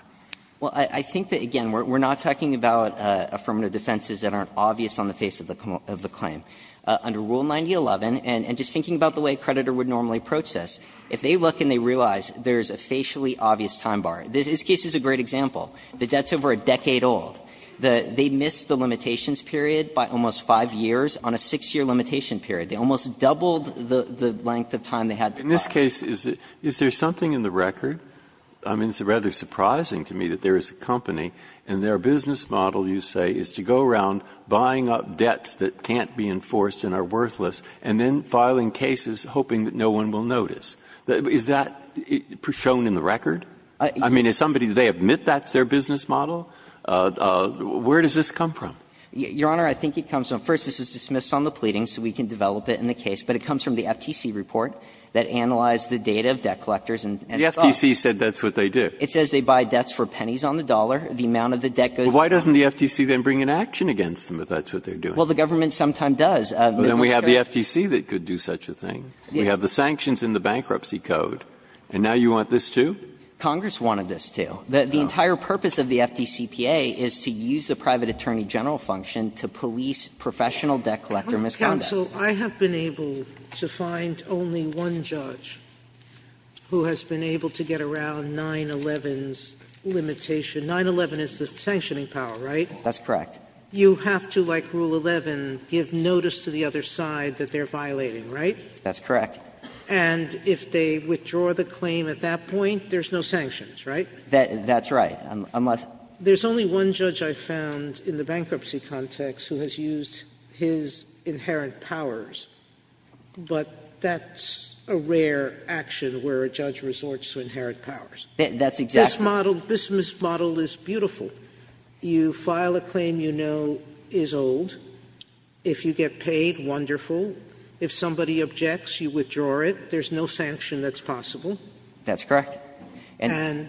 Well, I think that, again, we're not talking about affirmative defenses that aren't obvious on the face of the claim. Under Rule 9011, and just thinking about the way a creditor would normally approach this, if they look and they realize there's a facially obvious time bar, this case is a great example. The debt's over a decade old. They missed the limitations period by almost 5 years on a 6-year limitation period. They almost doubled the length of time they had to file. Breyer. In this case, is there something in the record? I mean, it's rather surprising to me that there is a company, and their business model, you say, is to go around buying up debts that can't be enforced and are worthless, Is that shown in the record? I mean, is somebody they admit that's their business model? Where does this come from? Your Honor, I think it comes from the FTC report that analyzed the data of debt collectors and thought the FTC said that's what they do. It says they buy debts for pennies on the dollar. The amount of the debt goes to the government. Why doesn't the FTC then bring an action against them if that's what they're doing? Well, the government sometimes does. Then we have the FTC that could do such a thing. We have the sanctions in the bankruptcy code, and now you want this, too? Congress wanted this, too. The entire purpose of the FDCPA is to use the private attorney general function to police professional debt collector misconduct. Sotomayor, I have been able to find only one judge who has been able to get around 9-11's limitation. 9-11 is the sanctioning power, right? That's correct. You have to, like Rule 11, give notice to the other side that they're violating, right? That's correct. And if they withdraw the claim at that point, there's no sanctions, right? That's right. There's only one judge I found in the bankruptcy context who has used his inherent powers, but that's a rare action where a judge resorts to inherent powers. That's exactly right. This model is beautiful. You file a claim you know is old. If you get paid, wonderful. If somebody objects, you withdraw it. There's no sanction that's possible. That's correct. And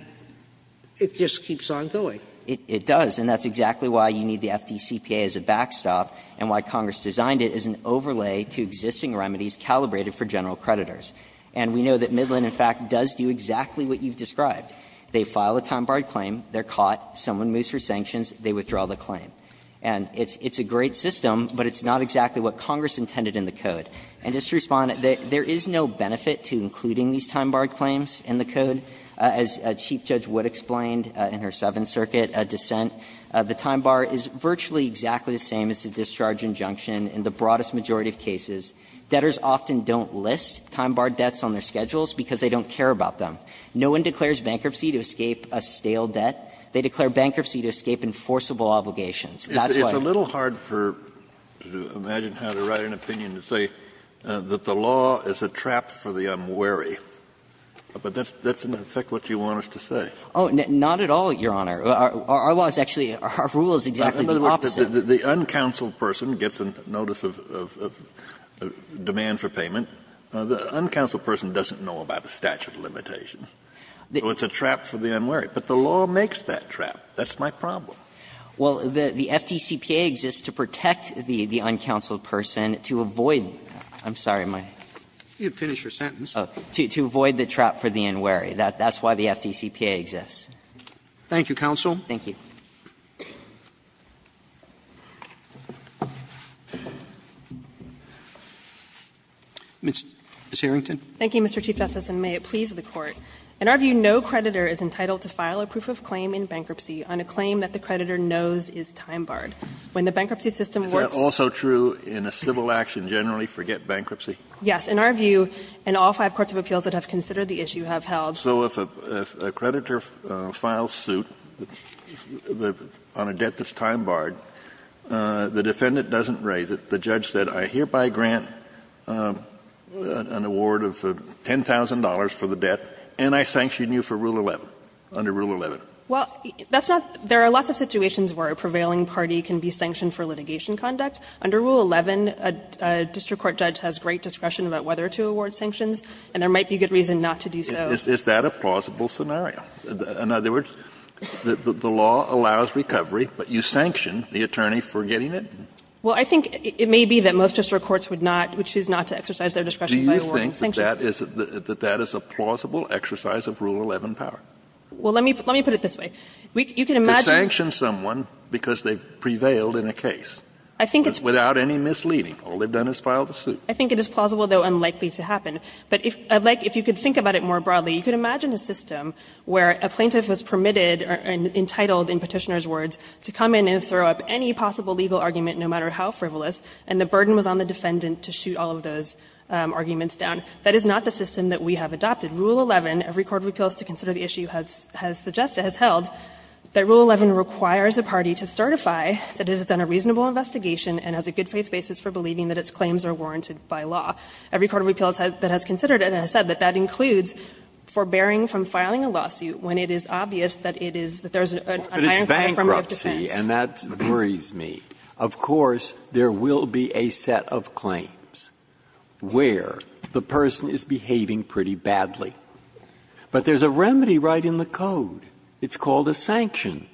it just keeps on going. It does, and that's exactly why you need the FDCPA as a backstop and why Congress designed it as an overlay to existing remedies calibrated for general creditors. And we know that Midland, in fact, does do exactly what you've described. They file a time-barred claim, they're caught, someone moves for sanctions, they withdraw the claim. And it's a great system, but it's not exactly what Congress intended in the code. And just to respond, there is no benefit to including these time-barred claims in the code. As Chief Judge Wood explained in her Seventh Circuit dissent, the time bar is virtually exactly the same as the discharge injunction in the broadest majority of cases. Debtors often don't list time-barred debts on their schedules because they don't care about them. No one declares bankruptcy to escape a stale debt. They declare bankruptcy to escape enforceable obligations. That's why. Kennedy, it's a little hard for you to imagine how to write an opinion to say that the law is a trap for the unwary. But that's in effect what you want us to say. Oh, not at all, Your Honor. Our law is actually – our rule is exactly the opposite. The uncounseled person gets a notice of demand for payment. The uncounseled person doesn't know about a statute of limitations. So it's a trap for the unwary. But the law makes that trap. That's my problem. Well, the FDCPA exists to protect the uncounseled person to avoid – I'm sorry, my – You can finish your sentence. To avoid the trap for the unwary. That's why the FDCPA exists. Thank you, counsel. Thank you. Thank you, Mr. Chief Justice, and may it please the Court. In our view, no creditor is entitled to file a proof of claim in bankruptcy on a claim that the creditor knows is time-barred. When the bankruptcy system works – Is that also true in a civil action generally, forget bankruptcy? Yes. In our view, and all five courts of appeals that have considered the issue have held – So if a creditor files suit on a debt that's time-barred, the defendant doesn't raise it. The judge said, I hereby grant an award of $10,000 for the debt, and I sanction you for Rule 11, under Rule 11. Well, that's not – there are lots of situations where a prevailing party can be sanctioned for litigation conduct. Under Rule 11, a district court judge has great discretion about whether to award sanctions, and there might be good reason not to do so. Is that a plausible scenario? In other words, the law allows recovery, but you sanction the attorney for getting it? Well, I think it may be that most district courts would not – would choose not to exercise their discretion by awarding sanctions. Do you think that that is a plausible exercise of Rule 11 power? Well, let me put it this way. You can imagine – To sanction someone because they prevailed in a case without any misleading. All they've done is filed a suit. I think it is plausible, though unlikely to happen. But if you could think about it more broadly, you could imagine a system where a plaintiff was permitted or entitled, in Petitioner's words, to come in and throw up any possible legal argument, no matter how frivolous, and the burden was on the defendant to shoot all of those arguments down. That is not the system that we have adopted. Rule 11, every court of appeals to consider the issue has suggested, has held, that Rule 11 requires a party to certify that it has done a reasonable investigation and has a good faith basis for believing that its claims are warranted by law. Every court of appeals that has considered it has said that that includes forbearing from filing a lawsuit when it is obvious that it is – that there is an ironclad form of defense. Breyer. And that worries me. Of course, there will be a set of claims where the person is behaving pretty badly. But there's a remedy right in the code. It's called a sanction.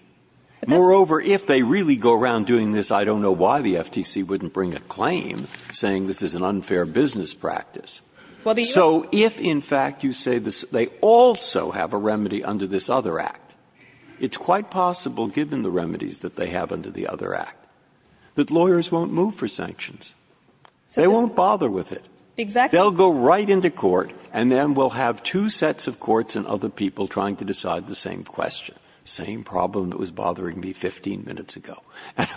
Moreover, if they really go around doing this, I don't know why the FTC wouldn't bring a claim saying this is an unfair business practice. So if, in fact, you say they also have a remedy under this other act, it's quite possible, given the remedies that they have under the other act, that lawyers won't move for sanctions. They won't bother with it. They'll go right into court and then we'll have two sets of courts and other people trying to decide the same question, the same problem that was bothering me 15 minutes ago. And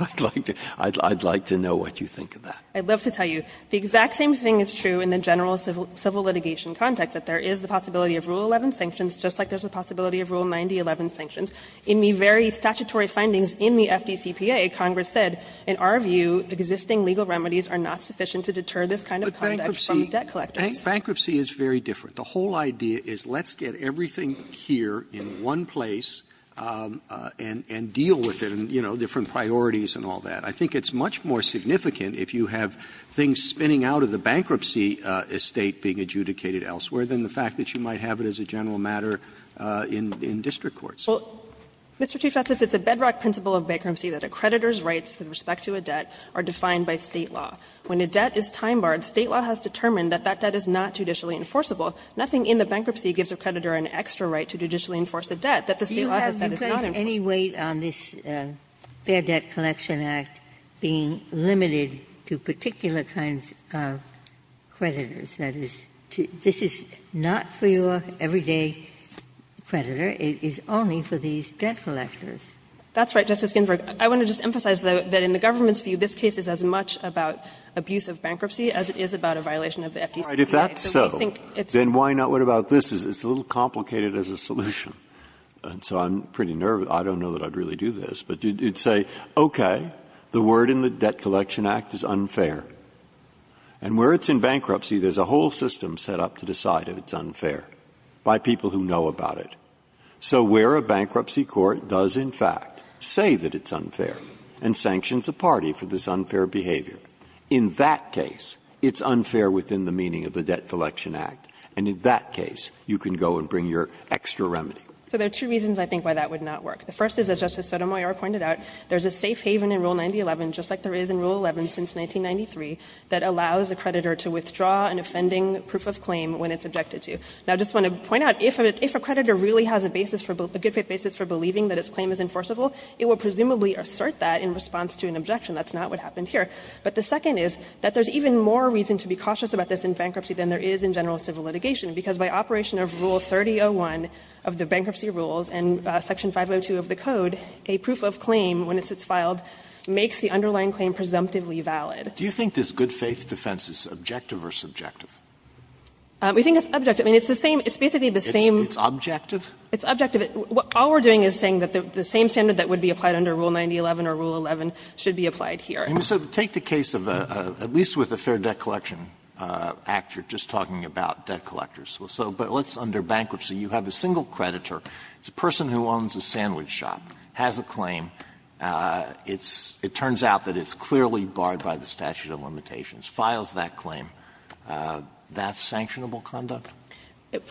I'd like to know what you think of that. I'd love to tell you. The exact same thing is true in the general civil litigation context, that there is the possibility of Rule 11 sanctions, just like there's the possibility of Rule 9011 sanctions. In the very statutory findings in the FDCPA, Congress said, in our view, existing legal remedies are not sufficient to deter this kind of conduct from debt collectors. Robertson Bankruptcy is very different. The whole idea is let's get everything here in one place and deal with it, you know, different priorities and all that. I think it's much more significant if you have things spinning out of the bankruptcy estate being adjudicated elsewhere than the fact that you might have it as a general matter in district courts. Well, Mr. Chief Justice, it's a bedrock principle of bankruptcy that a creditor's rights with respect to a debt are defined by State law. When a debt is time-barred, State law has determined that that debt is not judicially enforceable. Nothing in the bankruptcy gives a creditor an extra right to judicially enforce a debt that the State law has said is not enforceable. Do you place any weight on this Fair Debt Collection Act being limited to particular kinds of creditors? That is, this is not for your everyday creditor. It is only for these debt collectors. That's right, Justice Ginsburg. I want to just emphasize, though, that in the government's view, this case is as much about abuse of bankruptcy as it is about a violation of the FDCA. Breyer, if that's so, then why not what about this? It's a little complicated as a solution, and so I'm pretty nervous. I don't know that I'd really do this. But you'd say, okay, the word in the Debt Collection Act is unfair. And where it's in bankruptcy, there's a whole system set up to decide if it's unfair by people who know about it. So where a bankruptcy court does, in fact, say that it's unfair and sanctions a party for this unfair behavior, in that case, it's unfair within the meaning of the Debt Collection Act, and in that case, you can go and bring your extra remedy. So there are two reasons, I think, why that would not work. The first is, as Justice Sotomayor pointed out, there's a safe haven in Rule 9011, just like there is in Rule 11 since 1993, that allows a creditor to withdraw an offending proof of claim when it's objected to. Now, I just want to point out, if a creditor really has a basis for a good fit basis for believing that its claim is enforceable, it will presumably assert that in response to an objection. That's not what happened here. But the second is that there's even more reason to be cautious about this in bankruptcy than there is in general civil litigation, because by operation of Rule 3001 of the bankruptcy rules and Section 502 of the Code, a proof of claim, when it's filed, makes the underlying claim presumptively valid. Alitoso, do you think this good-faith defense is objective or subjective? We think it's objective. I mean, it's the same – it's basically the same – It's objective? It's objective. All we're doing is saying that the same standard that would be applied under Rule 9011 or Rule 11 should be applied here. So take the case of a – at least with a fair debt collection act, you're just talking about debt collectors. So let's – under bankruptcy, you have a single creditor. It's a person who owns a sandwich shop, has a claim. It's – it turns out that it's clearly barred by the statute of limitations. Files that claim, that's sanctionable conduct?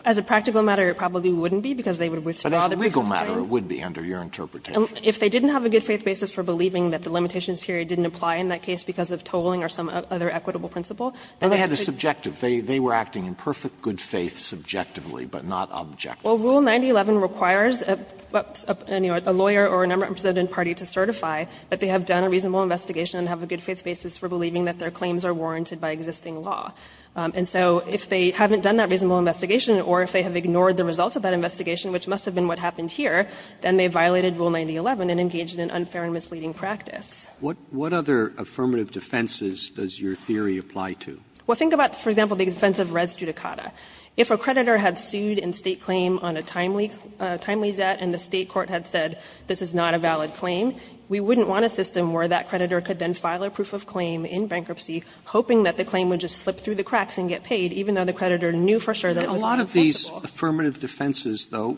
As a practical matter, it probably wouldn't be, because they would withdraw their proof of claim. But as a legal matter, it would be under your interpretation. If they didn't have a good-faith basis for believing that the limitations period didn't apply in that case because of tolling or some other equitable principle, then they could – No, they had a subjective. They were acting in perfect good faith subjectively, but not objectively. Well, Rule 9011 requires a lawyer or an underrepresented party to certify that they have done a reasonable investigation and have a good-faith basis for believing that their claims are warranted by existing law. And so if they haven't done that reasonable investigation or if they have ignored the results of that investigation, which must have been what happened here, then they violated Rule 9011 and engaged in an unfair and misleading practice. What other affirmative defenses does your theory apply to? Well, think about, for example, the defense of res judicata. If a creditor had sued in State claim on a timely – a timely zet and the State court had said this is not a valid claim, we wouldn't want a system where that creditor could then file a proof of claim in bankruptcy hoping that the claim would just slip through the cracks and get paid, even though the creditor knew for sure that it was impossible. A lot of these affirmative defenses, though,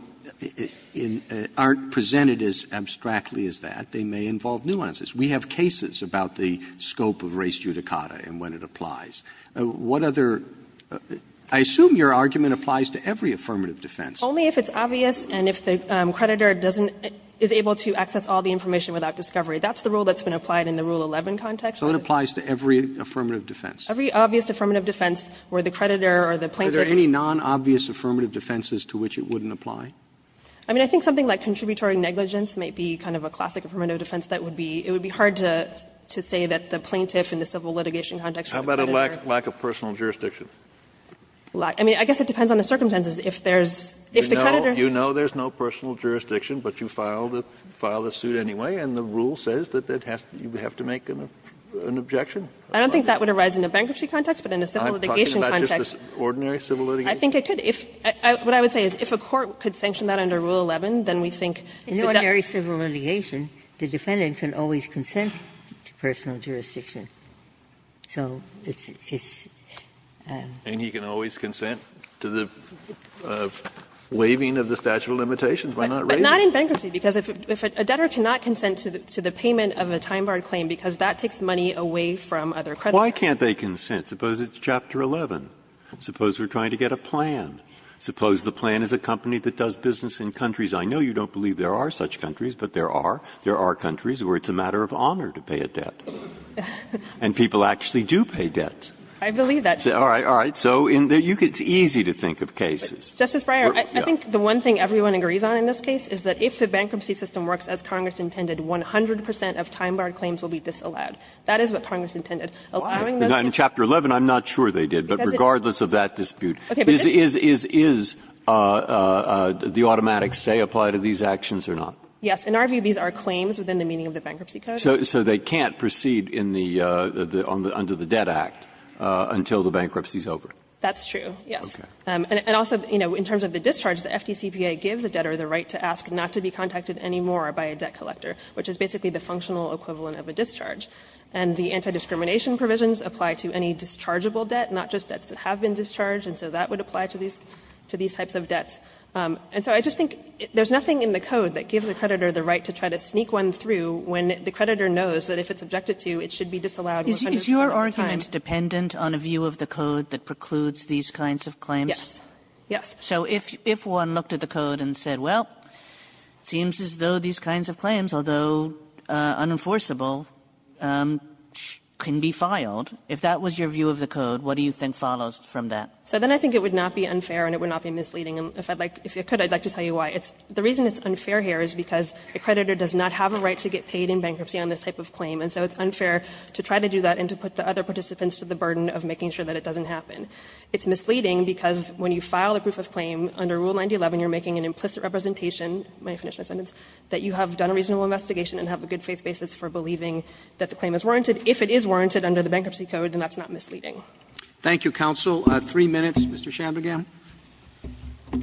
aren't presented as abstractly as that. They may involve nuances. We have cases about the scope of res judicata and when it applies. What other – I assume your argument applies to every affirmative defense. Only if it's obvious and if the creditor doesn't – is able to access all the information without discovery. That's the rule that's been applied in the Rule 11 context. So it applies to every affirmative defense? Every obvious affirmative defense where the creditor or the plaintiff – Are there any non-obvious affirmative defenses to which it wouldn't apply? I mean, I think something like contributory negligence might be kind of a classic affirmative defense that would be – it would be hard to say that the plaintiff in the civil litigation context – How about a lack of personal jurisdiction? I mean, I guess it depends on the circumstances. If there's – if the creditor – You know there's no personal jurisdiction, but you file the suit anyway and the rule says that you have to make an objection? I don't think that would arise in a bankruptcy context, but in a civil litigation context – I'm talking about just ordinary civil litigation? I think it could. If – what I would say is if a court could sanction that under Rule 11, then we think that that's – In ordinary civil litigation, the defendant can always consent to personal jurisdiction. So it's – it's – And he can always consent to the waiving of the statute of limitations. Why not raise it? But not in bankruptcy, because if a debtor cannot consent to the payment of a time-barred claim, because that takes money away from other creditors. Why can't they consent? Suppose it's Chapter 11. Suppose we're trying to get a plan. Suppose the plan is a company that does business in countries. I know you don't believe there are such countries, but there are. There are countries where it's a matter of honor to pay a debt. And people actually do pay debt. I believe that. All right. All right. So in the – it's easy to think of cases. Justice Breyer, I think the one thing everyone agrees on in this case is that if the bankruptcy system works as Congress intended, 100 percent of time-barred claims will be disallowed. That is what Congress intended. Why? In Chapter 11, I'm not sure they did, but regardless of that dispute. Is – is – is the automatic stay applied to these actions or not? Yes. In our view, these are claims within the meaning of the bankruptcy code. So – so they can't proceed in the – under the Debt Act until the bankruptcy is over? That's true, yes. And also, you know, in terms of the discharge, the FDCPA gives a debtor the right to ask not to be contacted anymore by a debt collector, which is basically the functional equivalent of a discharge. And the anti-discrimination provisions apply to any dischargeable debt, not just debts that have been discharged, and so that would apply to these – to these types of debts. And so I just think there's nothing in the code that gives a creditor the right to try to sneak one through when the creditor knows that if it's objected to, it should be disallowed 100 percent of the time. Is your argument dependent on a view of the code that precludes these kinds of claims? Yes. Yes. So if – if one looked at the code and said, well, it seems as though these kinds of claims, although unenforceable, can be filed, if that was your view of the code, what do you think follows from that? So then I think it would not be unfair and it would not be misleading. And if I'd like – if it could, I'd like to tell you why. It's – the reason it's unfair here is because a creditor does not have a right to get paid in bankruptcy on this type of claim, and so it's unfair to try to do that and to put the other participants to the burden of making sure that it doesn't happen. It's misleading because when you file a proof of claim under Rule 9011, you're making an implicit representation – may I finish my sentence – that you have done a reasonable investigation and have a good faith basis for believing that the claim is warranted. If it is warranted under the bankruptcy code, then that's not misleading. Thank you, counsel. Three minutes. Mr. Shabnagam.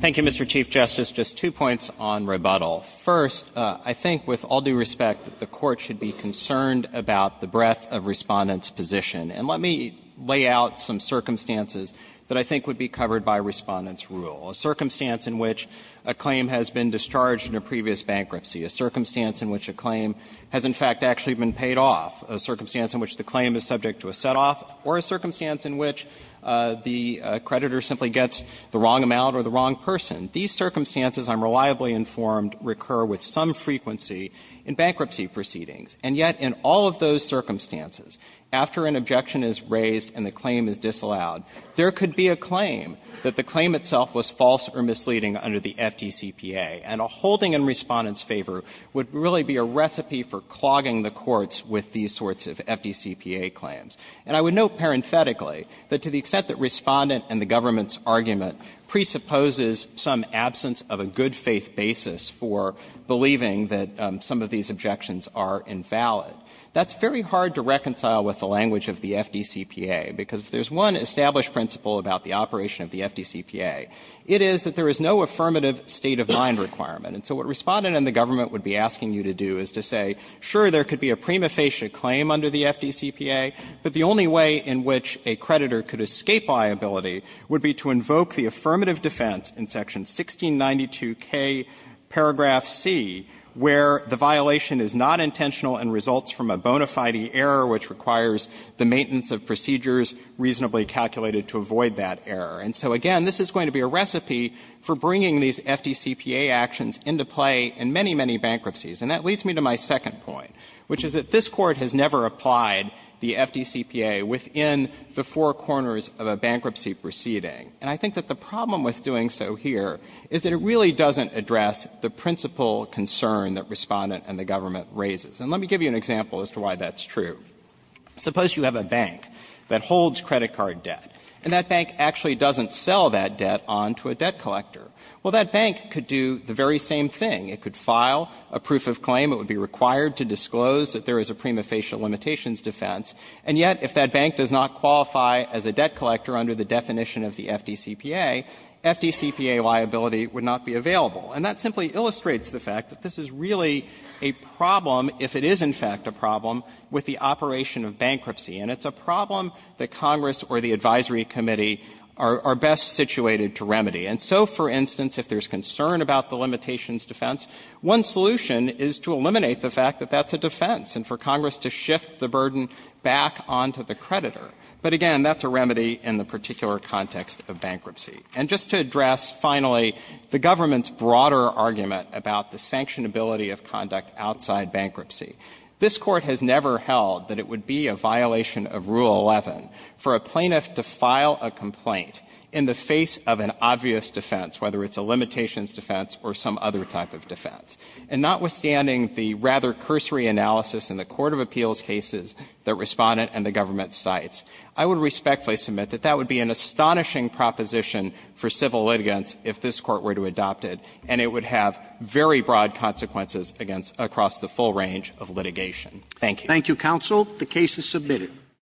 Thank you, Mr. Chief Justice. Just two points on rebuttal. First, I think with all due respect that the Court should be concerned about the breadth of Respondent's position. And let me lay out some circumstances that I think would be covered by Respondent's rule. A circumstance in which a claim has been discharged in a previous bankruptcy, a circumstance in which a claim has in fact actually been paid off, a circumstance in which the claim is subject to a set-off, or a circumstance in which the creditor simply gets the wrong amount or the wrong person. These circumstances, I'm reliably informed, recur with some frequency in bankruptcy proceedings. And yet in all of those circumstances, after an objection is raised and the claim is disallowed, there could be a claim that the claim itself was false or misleading under the FDCPA. And a holding in Respondent's favor would really be a recipe for clogging the courts with these sorts of FDCPA claims. And I would note parenthetically that to the extent that Respondent and the government's claim that there is some absence of a good-faith basis for believing that some of these objections are invalid, that's very hard to reconcile with the language of the FDCPA, because if there's one established principle about the operation of the FDCPA, it is that there is no affirmative state-of-mind requirement. And so what Respondent and the government would be asking you to do is to say, sure, there could be a prima facie claim under the FDCPA, but the only way in which a creditor could escape liability would be to invoke the affirmative defense in section 1692k paragraph c, where the violation is not intentional and results from a bona fide error which requires the maintenance of procedures reasonably calculated to avoid that error. And so, again, this is going to be a recipe for bringing these FDCPA actions into play in many, many bankruptcies. And that leads me to my second point, which is that this Court has never applied the FDCPA within the four corners of a bankruptcy proceeding. And I think that the problem with doing so here is that it really doesn't address the principal concern that Respondent and the government raises. And let me give you an example as to why that's true. Suppose you have a bank that holds credit card debt, and that bank actually doesn't sell that debt on to a debt collector. Well, that bank could do the very same thing. It could file a proof of claim. It would be required to disclose that there is a prima facie limitations defense. And yet, if that bank does not qualify as a debt collector under the definition of the FDCPA, FDCPA liability would not be available. And that simply illustrates the fact that this is really a problem, if it is in fact a problem, with the operation of bankruptcy. And it's a problem that Congress or the advisory committee are best situated to remedy. And so, for instance, if there's concern about the limitations defense, one solution is to eliminate the fact that that's a defense, and for Congress to shift the burden back on to the creditor. But again, that's a remedy in the particular context of bankruptcy. And just to address, finally, the government's broader argument about the sanctionability of conduct outside bankruptcy, this Court has never held that it would be a violation of Rule 11 for a plaintiff to file a complaint in the face of an obvious defense, whether it's a limitations defense or some other type of defense. And notwithstanding the rather cursory analysis in the court of appeals cases that Respondent and the government cites, I would respectfully submit that that would be an astonishing proposition for civil litigants if this Court were to adopt it, and it would have very broad consequences against across the full range of litigation. Thank you. Roberts. Thank you, counsel. The case is submitted.